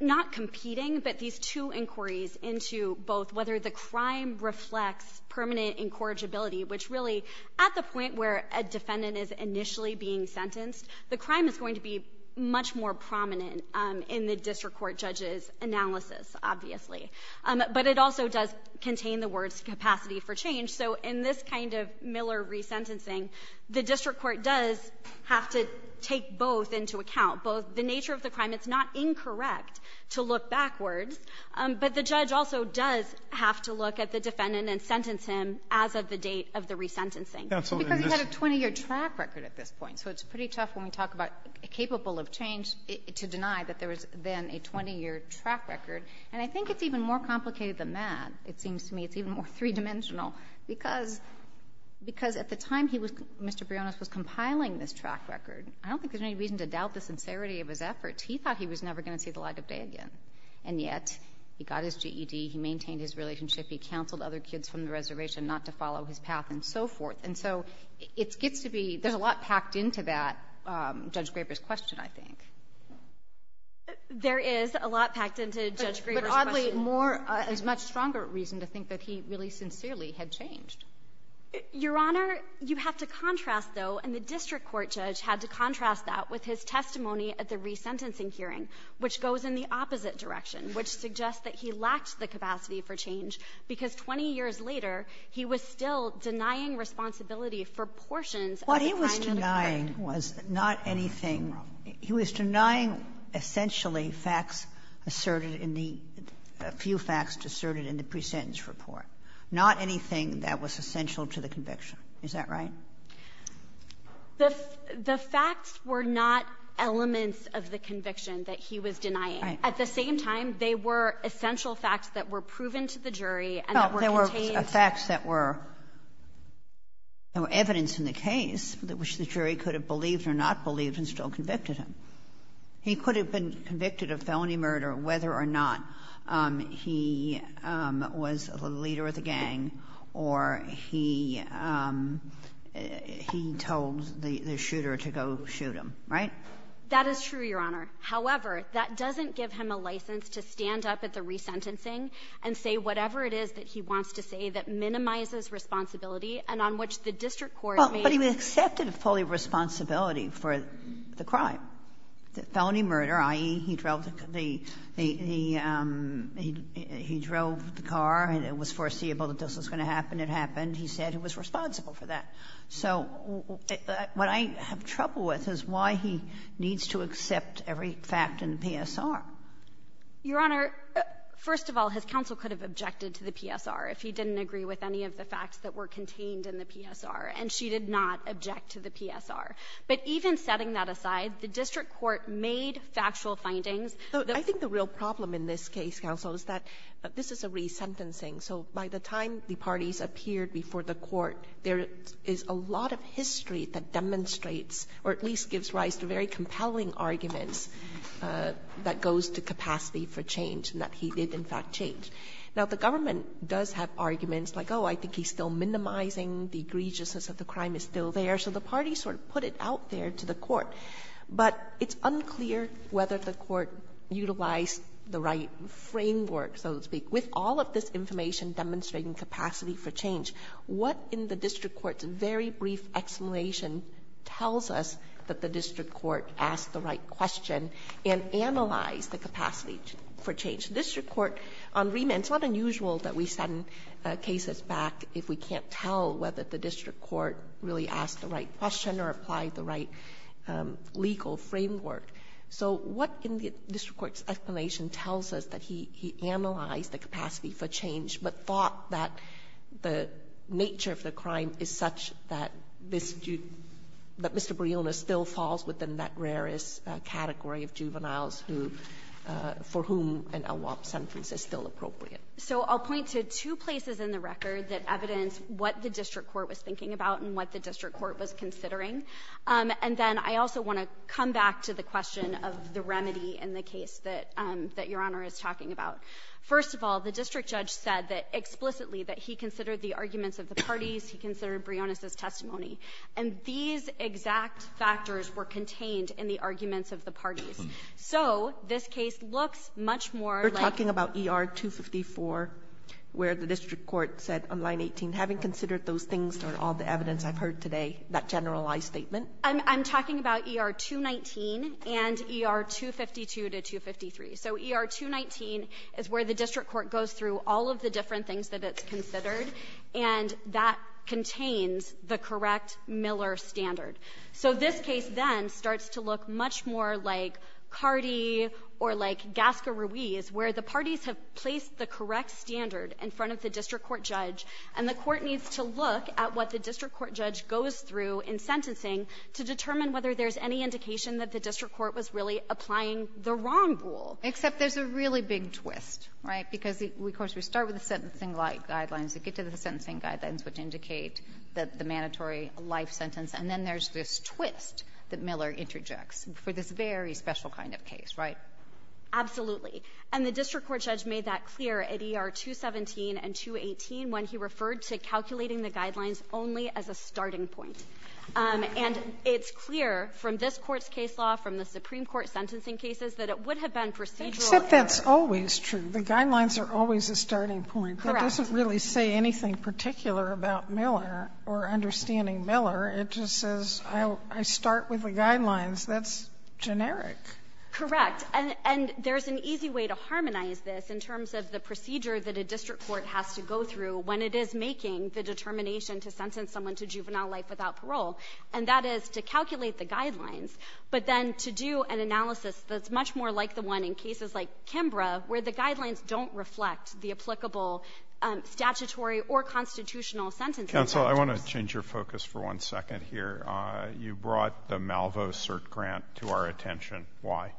not competing, but these two inquiries into both whether the crime reflects permanent incorrigibility, which really, at the point where a defendant is initially being sentenced, the crime is going to be much more prominent in the district court judge's analysis, obviously. But it also does contain the words capacity for change. So in this kind of Miller resentencing, the district court does have to take both into account, both the nature of the crime. It's not incorrect to look backwards. But the judge also does have to look at the defendant and sentence him as of the date of the resentencing. Because he had a 20-year track record at this point. So it's pretty tough when we talk about capable of change to deny that there was then a 20-year track record. And I think it's even more complicated than that, it seems to me. It's even more three-dimensional, because at the time he was Mr. Briones was compiling this track record. I don't think there's any reason to doubt the sincerity of his efforts. He thought he was never going to see the light of day again. And yet he got his GED. He maintained his relationship. He counseled other kids from the reservation not to follow his path and so forth. And so it gets to be — there's a lot packed into that Judge Graber's question, I think. There is a lot packed into Judge Graber's question. But oddly, more — a much stronger reason to think that he really sincerely had changed. Your Honor, you have to contrast, though, and the district court judge had to contrast that with his testimony at the resentencing hearing, which goes in the opposite direction, which suggests that he lacked the capacity for change, because 20 years later he was still denying responsibility for portions of the time that occurred. What he was denying was not anything — he was denying essentially facts asserted in the — a few facts asserted in the presentence report, not anything that was essential to the conviction. Is that right? The facts were not elements of the conviction that he was denying. At the same time, they were essential facts that were proven to the jury and that were contained — Well, there were facts that were — there were evidence in the case which the jury could have believed or not believed and still convicted him. He could have been convicted of felony murder whether or not he was the leader of the gang or he — he told the shooter to go shoot him, right? That is true, Your Honor. However, that doesn't give him a license to stand up at the resentencing and say whatever it is that he wants to say that minimizes responsibility and on which the district court may — But he accepted fully responsibility for the crime, the felony murder, i.e., he drove the car and it was foreseeable that this was going to happen. It happened. He said he was responsible for that. So what I have trouble with is why he needs to accept every fact in the PSR. Your Honor, first of all, his counsel could have objected to the PSR if he didn't agree with any of the facts that were contained in the PSR. And she did not object to the PSR. But even setting that aside, the district court made factual findings. I think the real problem in this case, counsel, is that this is a resentencing. So by the time the parties appeared before the court, there is a lot of history that demonstrates or at least gives rise to very compelling arguments that goes to capacity for change and that he did in fact change. Now, the government does have arguments like, oh, I think he's still minimizing the egregiousness of the crime. It's still there. So the parties sort of put it out there to the court. But it's unclear whether the court utilized the right framework, so to speak. With all of this information demonstrating capacity for change, what in the district court's very brief explanation tells us that the district court asked the right question and analyzed the capacity for change? The district court on remand, it's not unusual that we send cases back if we can't tell whether the district court really asked the right question or applied the right legal framework. So what in the district court's explanation tells us that he analyzed the capacity for change but thought that the nature of the crime is such that Mr. Barillona still falls within that rarest category of juveniles for whom an AWOP sentence is still appropriate? So I'll point to two places in the record that evidence what the district court was thinking about and what the district court was considering. And then I also want to come back to the question of the remedy in the case that Your Honor is talking about. First of all, the district judge said that explicitly that he considered the arguments of the parties. He considered Briones' testimony. And these exact factors were contained in the arguments of the parties. So this case looks much more like you're talking about ER-254. Where the district court said on line 18, having considered those things and all the evidence I've heard today, that generalized statement. I'm talking about ER-219 and ER-252 to 253. So ER-219 is where the district court goes through all of the different things that it's considered, and that contains the correct Miller standard. So this case then starts to look much more like Cardi or like Gasca-Ruiz, where the parties have placed the correct standard in front of the district court judge, and the court needs to look at what the district court judge goes through in sentencing to determine whether there's any indication that the district court was really applying the wrong rule. Kagan. And then there's this twist that Miller interjects for this very special kind of case, right? Absolutely. And the district court judge made that clear at ER-217 and 218 when he referred to calculating the guidelines only as a starting point. And it's clear from this Court's case law, from the Supreme Court's sentencing cases, that it would have been procedural error. Sotomayor, except that's always true. The guidelines are always a starting point. Correct. That doesn't really say anything particular about Miller or understanding Miller. It just says I start with the guidelines. That's generic. Correct. And there's an easy way to harmonize this in terms of the procedure that a district court has to go through when it is making the determination to sentence someone to juvenile life without parole, and that is to calculate the guidelines, but then to do an analysis that's much more like the one in cases like Kimbra, where the guidelines don't reflect the applicable statutory or constitutional sentencing factors. Counsel, I want to change your focus for one second here. You brought the Malvo CERT grant to our attention. Why?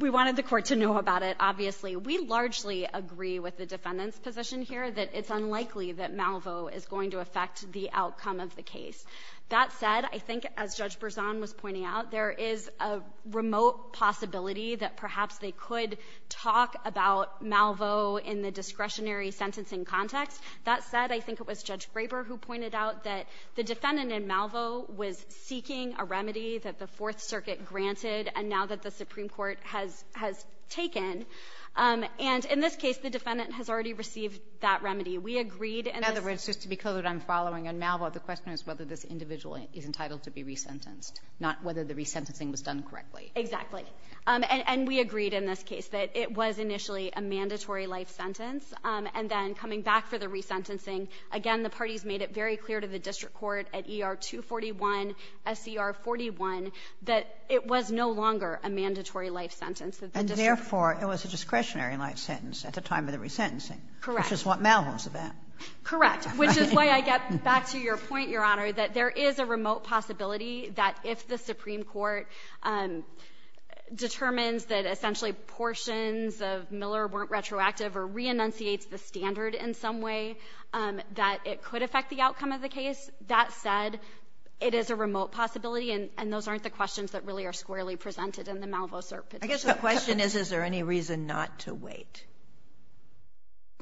We wanted the Court to know about it, obviously. We largely agree with the defendant's position here that it's unlikely that Malvo is going to affect the outcome of the case. That said, I think as Judge Berzon was pointing out, there is a remote possibility that perhaps they could talk about Malvo in the discretionary sentencing context. That said, I think it was Judge Graber who pointed out that the defendant in Malvo was seeking a remedy that the Fourth Circuit granted, and now that the Supreme Court has taken. And in this case, the defendant has already received that remedy. We agreed in this case. In other words, just to be clear that I'm following on Malvo, the question is whether this individual is entitled to be resentenced, not whether the resentencing was done correctly. Exactly. And we agreed in this case that it was initially a mandatory life sentence. And then coming back for the resentencing, again, the parties made it very clear to the district court at ER-241, SCR-41, that it was no longer a mandatory life sentence. And therefore, it was a discretionary life sentence at the time of the resentencing. Correct. Which is what Malvo is about. Correct. Which is why I get back to your point, Your Honor, that there is a remote possibility that if the Supreme Court determines that essentially portions of Miller weren't retroactive or reenunciates the standard in some way, that it could affect the outcome of the case. That said, it is a remote possibility, and those aren't the questions that really are squarely presented in the Malvo cert petition. I guess the question is, is there any reason not to wait?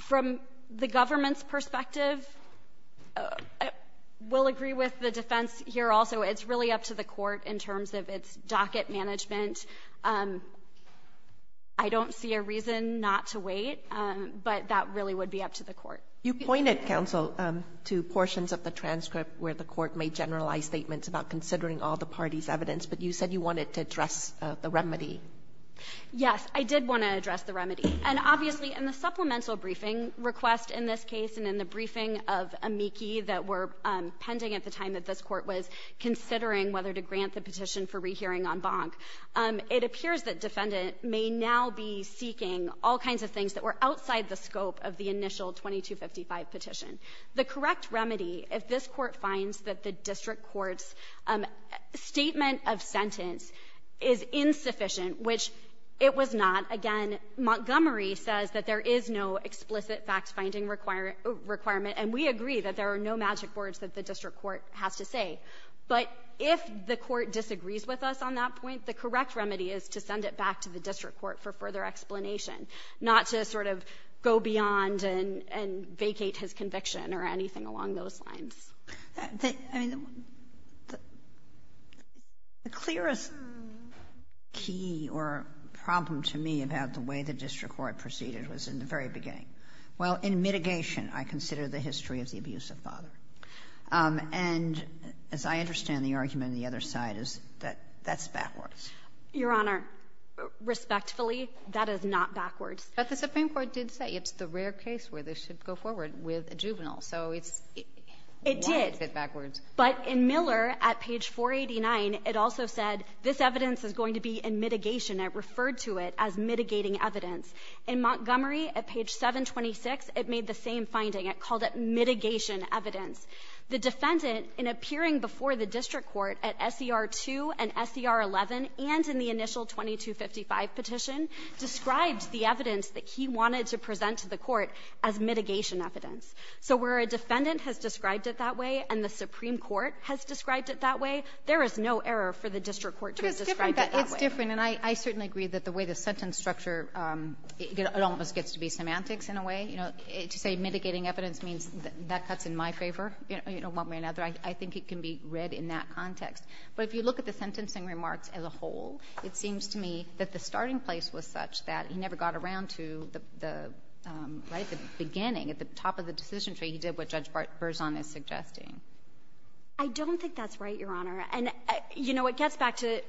From the government's perspective, we'll agree with the defense here also. It's really up to the court in terms of its docket management. I don't see a reason not to wait, but that really would be up to the court. You pointed, counsel, to portions of the transcript where the court made generalized statements about considering all the parties' evidence, but you said you wanted to address the remedy. Yes. I did want to address the remedy. And obviously, in the supplemental briefing request in this case and in the briefing of amici that were pending at the time that this Court was considering whether to grant the petition for rehearing en banc, it appears that defendant may now be seeking all kinds of things that were outside the scope of the initial 2255 petition. The correct remedy, if this Court finds that the district court's statement of sentence is insufficient, which it was not, again, Montgomery says that there is no explicit fact-finding requirement, and we agree that there are no magic words that the district court has to say. But if the court disagrees with us on that point, the correct remedy is to send it back to the district court for further explanation, not to sort of go beyond and vacate his conviction or anything along those lines. I mean, the clearest key or problem to me about the way the district court proceeded was in the very beginning. Well, in mitigation, I consider the history of the abuse of father. And as I understand the argument on the other side is that that's backwards. Your Honor, respectfully, that is not backwards. But the Supreme Court did say it's the rare case where they should go forward with a juvenile. So why is it backwards? It did. But in Miller, at page 489, it also said this evidence is going to be in mitigation. It referred to it as mitigating evidence. In Montgomery, at page 726, it made the same finding. It called it mitigation evidence. The defendant, in appearing before the district court at SER 2 and SER 11 and in the initial 2255 petition, described the evidence that he wanted to present to the court as mitigation evidence. So where a defendant has described it that way and the Supreme Court has described it that way, there is no error for the district court to have described it that way. But it's different. And I certainly agree that the way the sentence structure, it almost gets to be semantics in a way. You know, to say mitigating evidence means that that cuts in my favor, you know, one way or another. I think it can be read in that context. But if you look at the sentencing remarks as a whole, it seems to me that the starting place was such that he never got around to the, right, the beginning. At the top of the decision tree, he did what Judge Berzon is suggesting. I don't think that's right, Your Honor. And, you know, it gets back to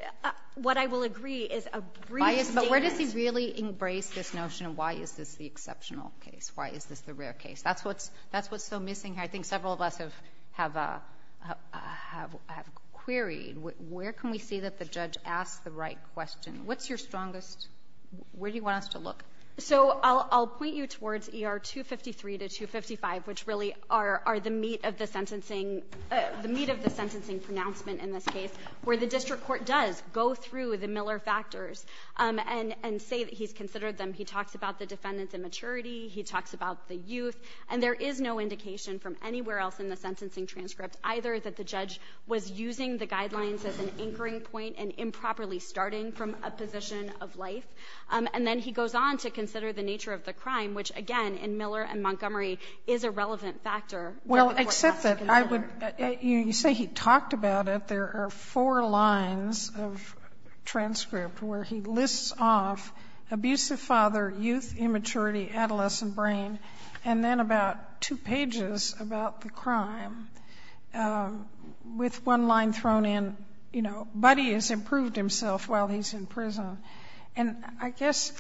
what I will agree is a brief statement. But where does he really embrace this notion of why is this the exceptional case? Why is this the rare case? That's what's so missing here. I think several of us have queried. Where can we see that the judge asked the right question? What's your strongest? Where do you want us to look? So I'll point you towards ER 253 to 255, which really are the meat of the sentencing – the meat of the sentencing pronouncement in this case, where the district court does go through the Miller factors and say that he's considered them. He talks about the defendant's immaturity. He talks about the youth. And there is no indication from anywhere else in the sentencing transcript either that the judge was using the guidelines as an anchoring point and improperly starting from a position of life. And then he goes on to consider the nature of the crime, which, again, in Miller and Montgomery is a relevant factor. Well, except that I would – you say he talked about it. There are four lines of transcript where he lists off abusive father, youth, immaturity, adolescent brain, and then about two pages about the crime with one line thrown in, you know, Buddy has improved himself while he's in prison. And I guess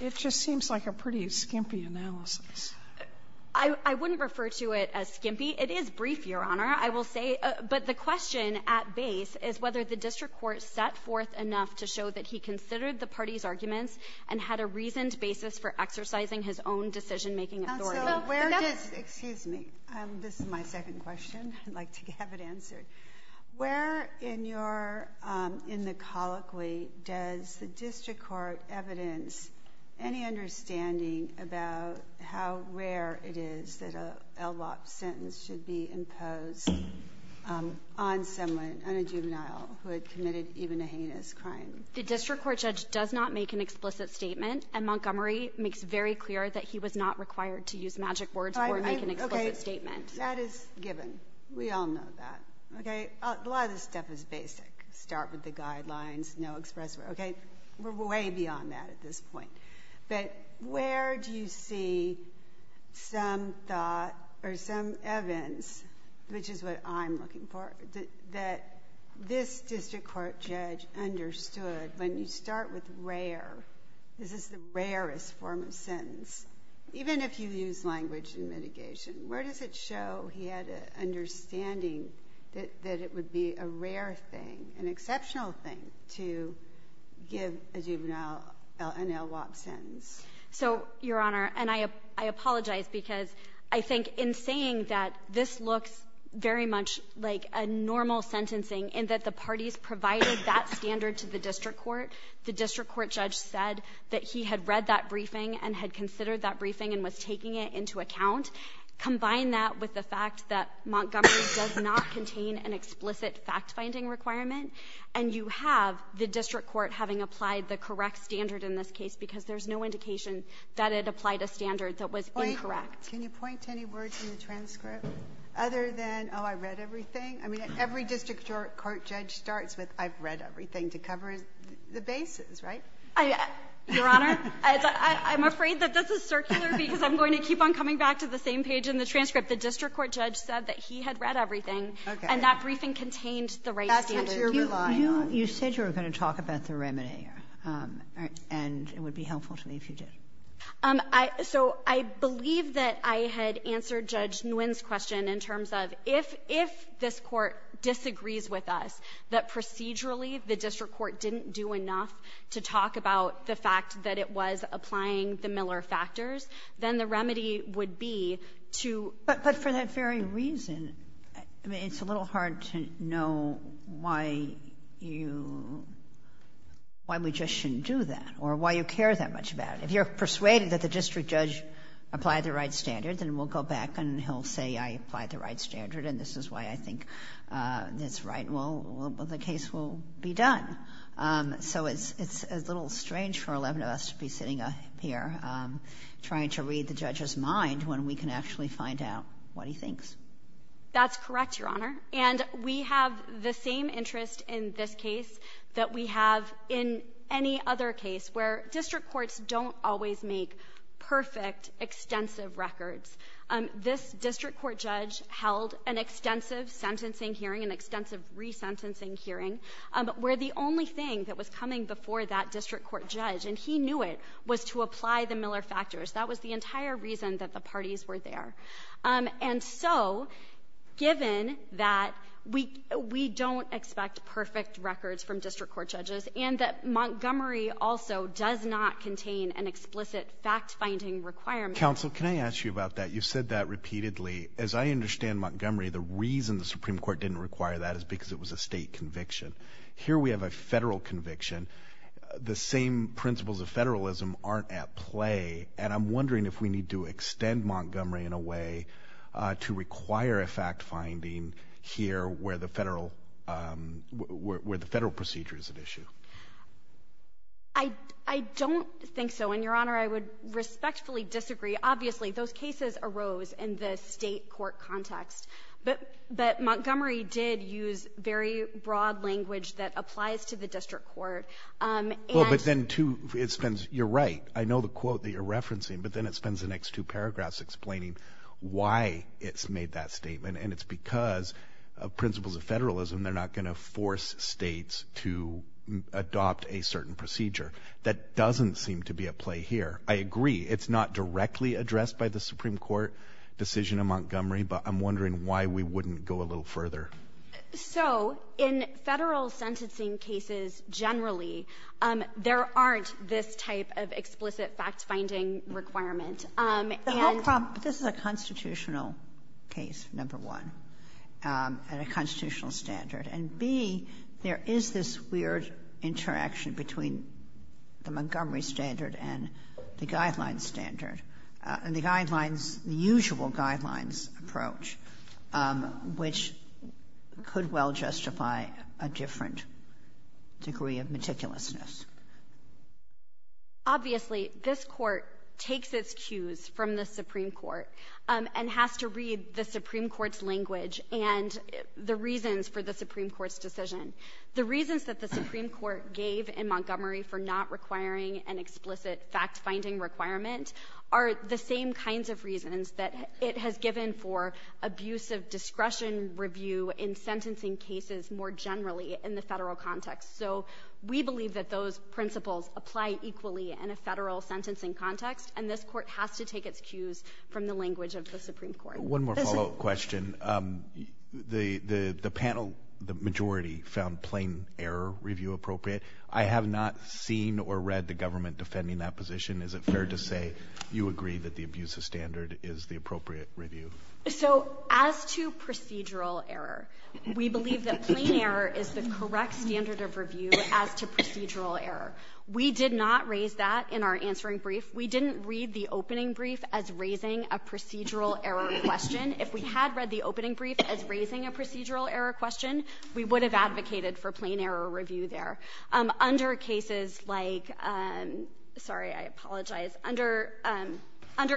it just seems like a pretty skimpy analysis. I wouldn't refer to it as skimpy. It is brief, Your Honor, I will say. But the question at base is whether the district court set forth enough to show that he considered the party's arguments and had a reasoned basis for exercising his own decision-making authority. Counsel, where does – excuse me. This is my second question. I'd like to have it answered. Where in your – in the colloquy does the district court evidence any understanding about how rare it is that an LBOP sentence should be imposed on someone, on a juvenile who had committed even a heinous crime? The district court judge does not make an explicit statement, and Montgomery makes very clear that he was not required to use magic words or make an explicit statement. That is given. We all know that. Okay? A lot of this stuff is basic. Start with the guidelines, no express words. Okay? We're way beyond that at this point. But where do you see some thought or some evidence, which is what I'm looking for, that this district court judge understood when you start with rare, this is the rarest form of sentence, even if you use language in mitigation, where does it show he had an understanding that it would be a rare thing, an exceptional thing, to give a juvenile an LBOP sentence? So, Your Honor, and I apologize because I think in saying that this looks very much like a normal sentencing in that the parties provided that standard to the district court, the district court judge said that he had read that briefing and had considered that briefing and was taking it into account. Combine that with the fact that Montgomery does not contain an explicit fact-finding requirement, and you have the district court having applied the correct standard in this case because there's no indication that it applied a standard that was incorrect. Can you point to any words in the transcript other than, oh, I read everything? I mean, every district court judge starts with, I've read everything, to cover the bases, right? Your Honor, I'm afraid that this is circular because I'm going to keep on coming back to the same page in the transcript. The district court judge said that he had read everything. Okay. And that briefing contained the right standard. That's what you're relying on. You said you were going to talk about the remedy, and it would be helpful to me if you did. So I believe that I had answered Judge Nguyen's question in terms of if this court disagrees with us, that procedurally the district court didn't do enough to talk about the fact that it was applying the Miller factors, then the remedy would be to But for that very reason, I mean, it's a little hard to know why you, why we just shouldn't do that or why you care that much about it. If you're persuaded that the district judge applied the right standard, then we'll go back and he'll say, I applied the right standard, and this is why I think that's right. Well, the case will be done. So it's a little strange for 11 of us to be sitting here trying to read the judge's That's correct, Your Honor. And we have the same interest in this case that we have in any other case where district courts don't always make perfect, extensive records. This district court judge held an extensive sentencing hearing, an extensive resentencing hearing, where the only thing that was coming before that district court judge, and he knew it, was to apply the Miller factors. That was the entire reason that the parties were there. And so, given that we don't expect perfect records from district court judges and that Montgomery also does not contain an explicit fact-finding requirement. Counsel, can I ask you about that? You've said that repeatedly. As I understand Montgomery, the reason the Supreme Court didn't require that is because it was a state conviction. Here we have a federal conviction. The same principles of federalism aren't at play. And I'm wondering if we need to extend Montgomery in a way to require a fact-finding here where the federal procedure is at issue. I don't think so. And, Your Honor, I would respectfully disagree. Obviously, those cases arose in the state court context. But Montgomery did use very broad language that applies to the district court. Well, but then, too, you're right. I know the quote that you're referencing, but then it spends the next two paragraphs explaining why it's made that statement. And it's because of principles of federalism. They're not going to force states to adopt a certain procedure. That doesn't seem to be at play here. I agree. It's not directly addressed by the Supreme Court decision in Montgomery. But I'm wondering why we wouldn't go a little further. So, in federal sentencing cases generally, there aren't this type of explicit fact-finding requirement. The whole problem, this is a constitutional case, number one, and a constitutional standard. And, B, there is this weird interaction between the Montgomery standard and the guidelines standard. And the guidelines, the usual guidelines approach, which could well justify a different degree of meticulousness. Obviously, this Court takes its cues from the Supreme Court and has to read the Supreme Court's language and the reasons for the Supreme Court's decision. The reasons that the Supreme Court gave in Montgomery for not requiring an explicit fact-finding requirement are the same kinds of reasons that it has given for abusive discretion review in sentencing cases more generally in the federal context. So, we believe that those principles apply equally in a federal sentencing context. And this Court has to take its cues from the language of the Supreme Court. One more follow-up question. The panel, the majority, found plain error review appropriate. I have not seen or read the government defending that position. Is it fair to say you agree that the abusive standard is the appropriate review? So, as to procedural error, we believe that plain error is the correct standard of review as to procedural error. We did not raise that in our answering brief. We didn't read the opening brief as raising a procedural error question. If we had read the opening brief as raising a procedural error question, we would have advocated for plain error review there. Under cases like — sorry, I apologize. Under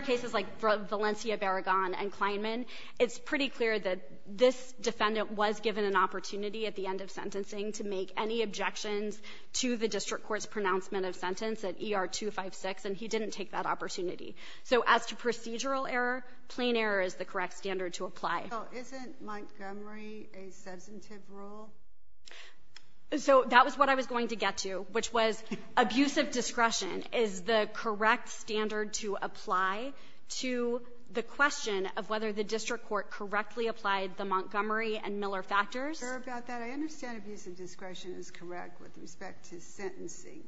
cases like Valencia-Barragan and Kleinman, it's pretty clear that this defendant was given an opportunity at the end of sentencing to make any objections to the district court's pronouncement of sentence at ER-256, and he didn't take that opportunity. So, as to procedural error, plain error is the correct standard to apply. So, isn't Montgomery a substantive rule? So, that was what I was going to get to, which was abusive discretion is the correct standard to apply to the question of whether the district court correctly applied the Montgomery and Miller factors. I'm sure about that. I understand abusive discretion is correct with respect to sentencing,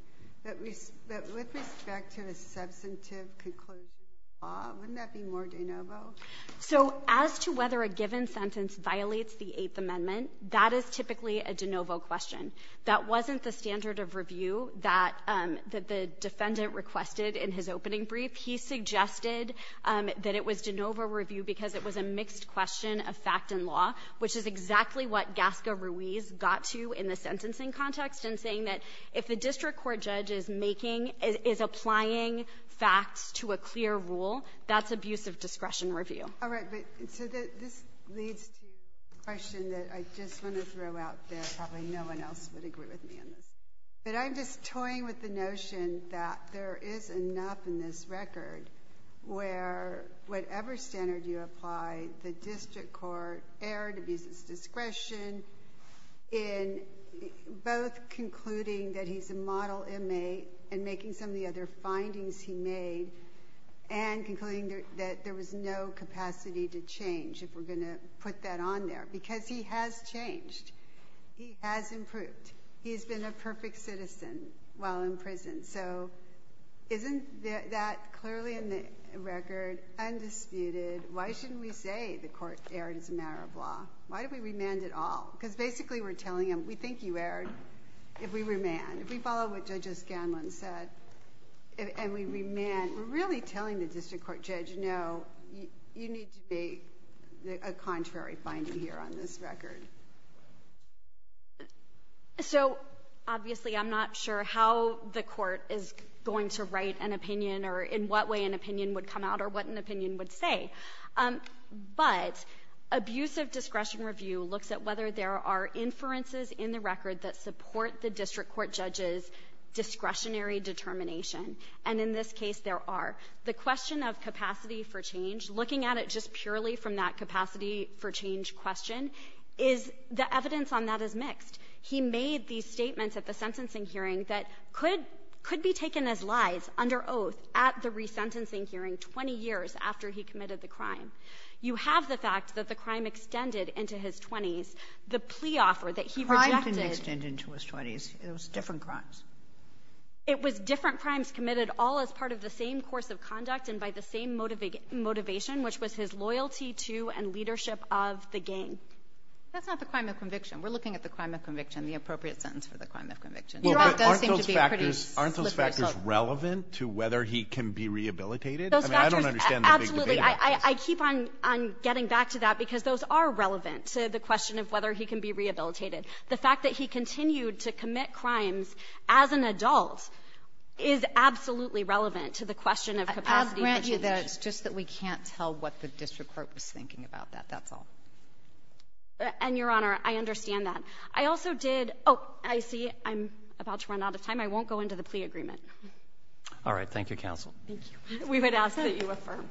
but with respect to the substantive conclusion of the law, wouldn't that be more de novo? So, as to whether a given sentence violates the Eighth Amendment, that is typically a de novo question. That wasn't the standard of review that the defendant requested in his opening brief. He suggested that it was de novo review because it was a mixed question of fact and law, which is exactly what Gasca-Ruiz got to in the sentencing context in saying that if the district court judge is making — is applying facts to a clear rule, that's abusive discretion review. All right. So, this leads to a question that I just want to throw out there. Probably no one else would agree with me on this. But I'm just toying with the notion that there is enough in this record where whatever standard you apply, the district court erred, abuses discretion in both concluding that he's a model inmate and making some of the other findings he made and concluding that there was no capacity to change, if we're going to put that on there. Because he has changed. He has improved. He's been a perfect citizen while in prison. So, isn't that clearly in the record undisputed? Why shouldn't we say the court erred as a matter of law? Why did we remand it all? Because, basically, we're telling him, we think you erred if we remand. If we follow what Judge O'Scanlan said and we remand, we're really telling the district court judge, no, you need to make a contrary finding here on this record. So, obviously, I'm not sure how the court is going to write an opinion or in what way an opinion would come out or what an opinion would say. But abusive discretion review looks at whether there are inferences in the record that support the district court judge's discretionary determination, and in this case there are. The question of capacity for change, looking at it just purely from that capacity for change question, is the evidence on that is mixed. He made these statements at the sentencing hearing that could be taken as lies under oath at the resentencing hearing 20 years after he committed the crime. You have the fact that the crime extended into his 20s. The plea offer that he rejected — Crime didn't extend into his 20s. It was different crimes. It was different crimes committed all as part of the same course of conduct and by the same motivation, which was his loyalty to and leadership of the gang. That's not the crime of conviction. of conviction. Aren't those factors relevant to whether he can be rehabilitated? I mean, I don't understand the big debate about this. Absolutely. I keep on getting back to that because those are relevant to the question of whether he can be rehabilitated. The fact that he continued to commit crimes as an adult is absolutely relevant to the question of capacity for change. I'll grant you that. It's just that we can't tell what the district court was thinking about that. That's all. And, Your Honor, I understand that. I also did — oh, I see I'm about to run out of time. I won't go into the plea agreement. All right. Thank you, counsel. Thank you. We would ask that you affirm.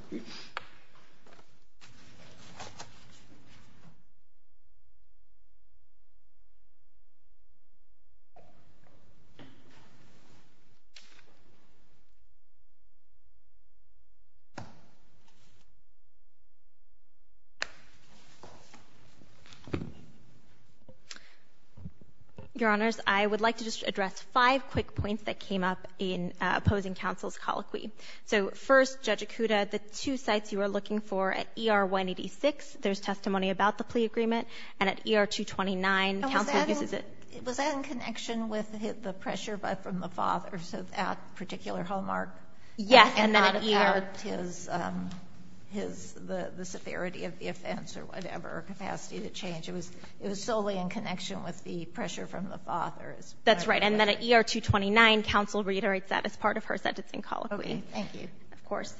Your Honors, I would like to just address five quick points that came up in opposing counsel's colloquy. So, first, Judge Acuda, the two sites you are looking for at ER 186, there's testimony about the plea agreement. And at ER 229, counsel uses it — And was that in connection with the pressure from the father, so that particular hallmark? Yes, and then at ER — And not about his — the severity of the offense or whatever, capacity to change. It was solely in connection with the pressure from the father. That's right. And then at ER 229, counsel reiterates that as part of her sentencing colloquy. Okay. Thank you. Of course.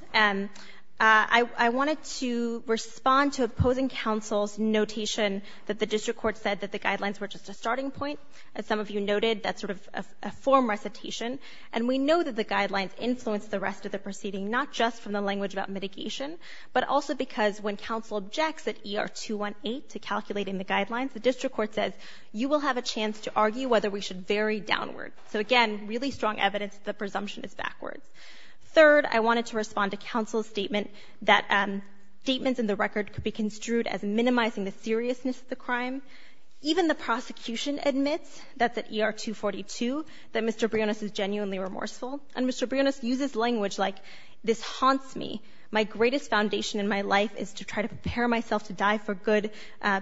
I wanted to respond to opposing counsel's notation that the district court said that the guidelines were just a starting point. As some of you noted, that's sort of a form recitation. And we know that the guidelines influence the rest of the proceeding, not just from the language about mitigation, but also because when counsel objects at ER 218 to calculating the guidelines, the district court says, you will have a chance to argue whether we should vary downward. So again, really strong evidence that the presumption is backwards. Third, I wanted to respond to counsel's statement that statements in the record could be construed as minimizing the seriousness of the crime. Even the prosecution admits, that's at ER 242, that Mr. Brionis is genuinely remorseful. And Mr. Brionis uses language like, this haunts me. My greatest foundation in my life is to try to prepare myself to die for good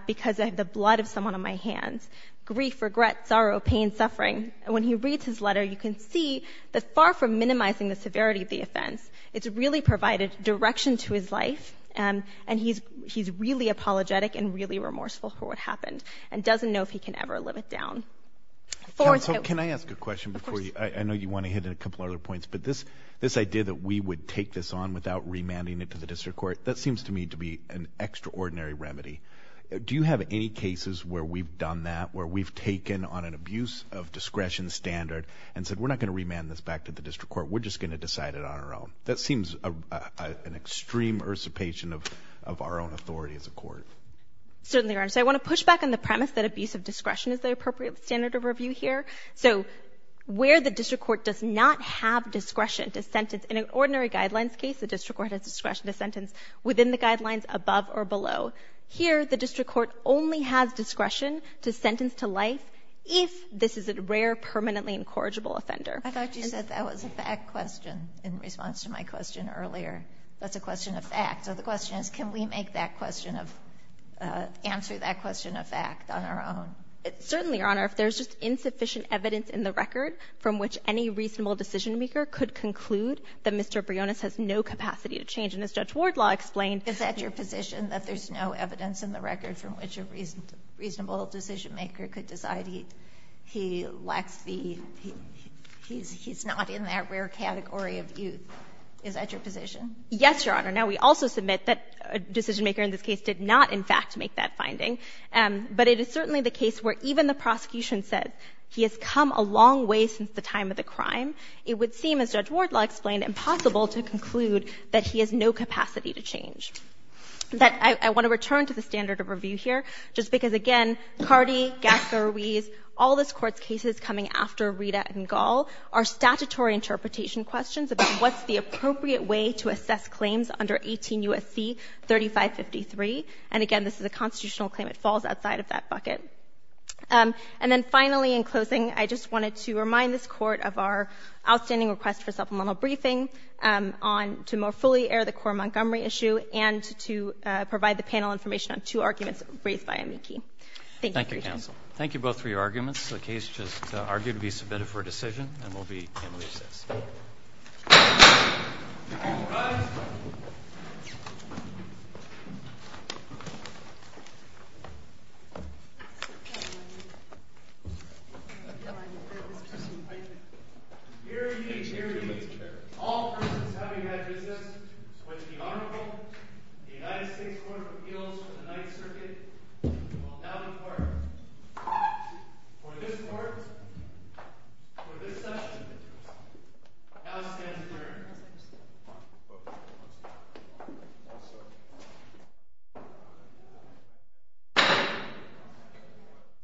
because I have the blood of someone on my hands. Grief, regret, sorrow, pain, suffering. And when he reads his letter, you can see that far from minimizing the severity of the offense, it's really provided direction to his life. And he's really apologetic and really remorseful for what happened and doesn't know if he can ever live it down. Counsel, can I ask a question before you? Of course. I know you want to hit a couple other points. But this idea that we would take this on without remanding it to the district court, that seems to me to be an extraordinary remedy. Do you have any cases where we've done that, where we've taken on an abuse of discretion standard and said, we're not going to remand this back to the district court, we're just going to decide it on our own? That seems an extreme ursipation of our own authority as a court. Certainly, Your Honor. So I want to push back on the premise that abuse of discretion is the appropriate standard of review here. So where the district court does not have discretion to sentence, in an ordinary guidelines case, the district court has discretion to sentence within the guidelines above or below. Here, the district court only has discretion to sentence to life if this is a rare, permanently incorrigible offender. I thought you said that was a fact question in response to my question earlier. That's a question of fact. So the question is, can we make that question of – answer that question of fact on our own? Certainly, Your Honor. If there's just insufficient evidence in the record from which any reasonable decisionmaker could conclude that Mr. Briones has no capacity to change, and as Judge Wardlaw explained – Is that your position, that there's no evidence in the record from which a reasonable decisionmaker could decide he lacks the – he's not in that rare category of youth? Is that your position? Yes, Your Honor. Now, we also submit that a decisionmaker in this case did not, in fact, make that finding, but it is certainly the case where even the prosecution said he has come a long way since the time of the crime. It would seem, as Judge Wardlaw explained, impossible to conclude that he has no capacity to change. That – I want to return to the standard of review here just because, again, Cardi, Gaspar Ruiz, all this Court's cases coming after Rita and Gall are statutory interpretation questions about what's the appropriate way to assess claims under 18 U.S.C. 3553. And, again, this is a constitutional claim. It falls outside of that bucket. And then, finally, in closing, I just wanted to remind this Court of our outstanding request for supplemental briefing on – to more fully air the Cora Montgomery issue and to provide the panel information on two arguments raised by amici. Thank you for your time. Thank you, counsel. Thank you both for your arguments. The case is argued to be submitted for decision, and we'll be in recess. All rise. Hear ye, hear ye. All persons having had recess to which the Honorable United States Court of Appeals for the Ninth Circuit will now depart. For this Court, for this session, the House stands adjourned.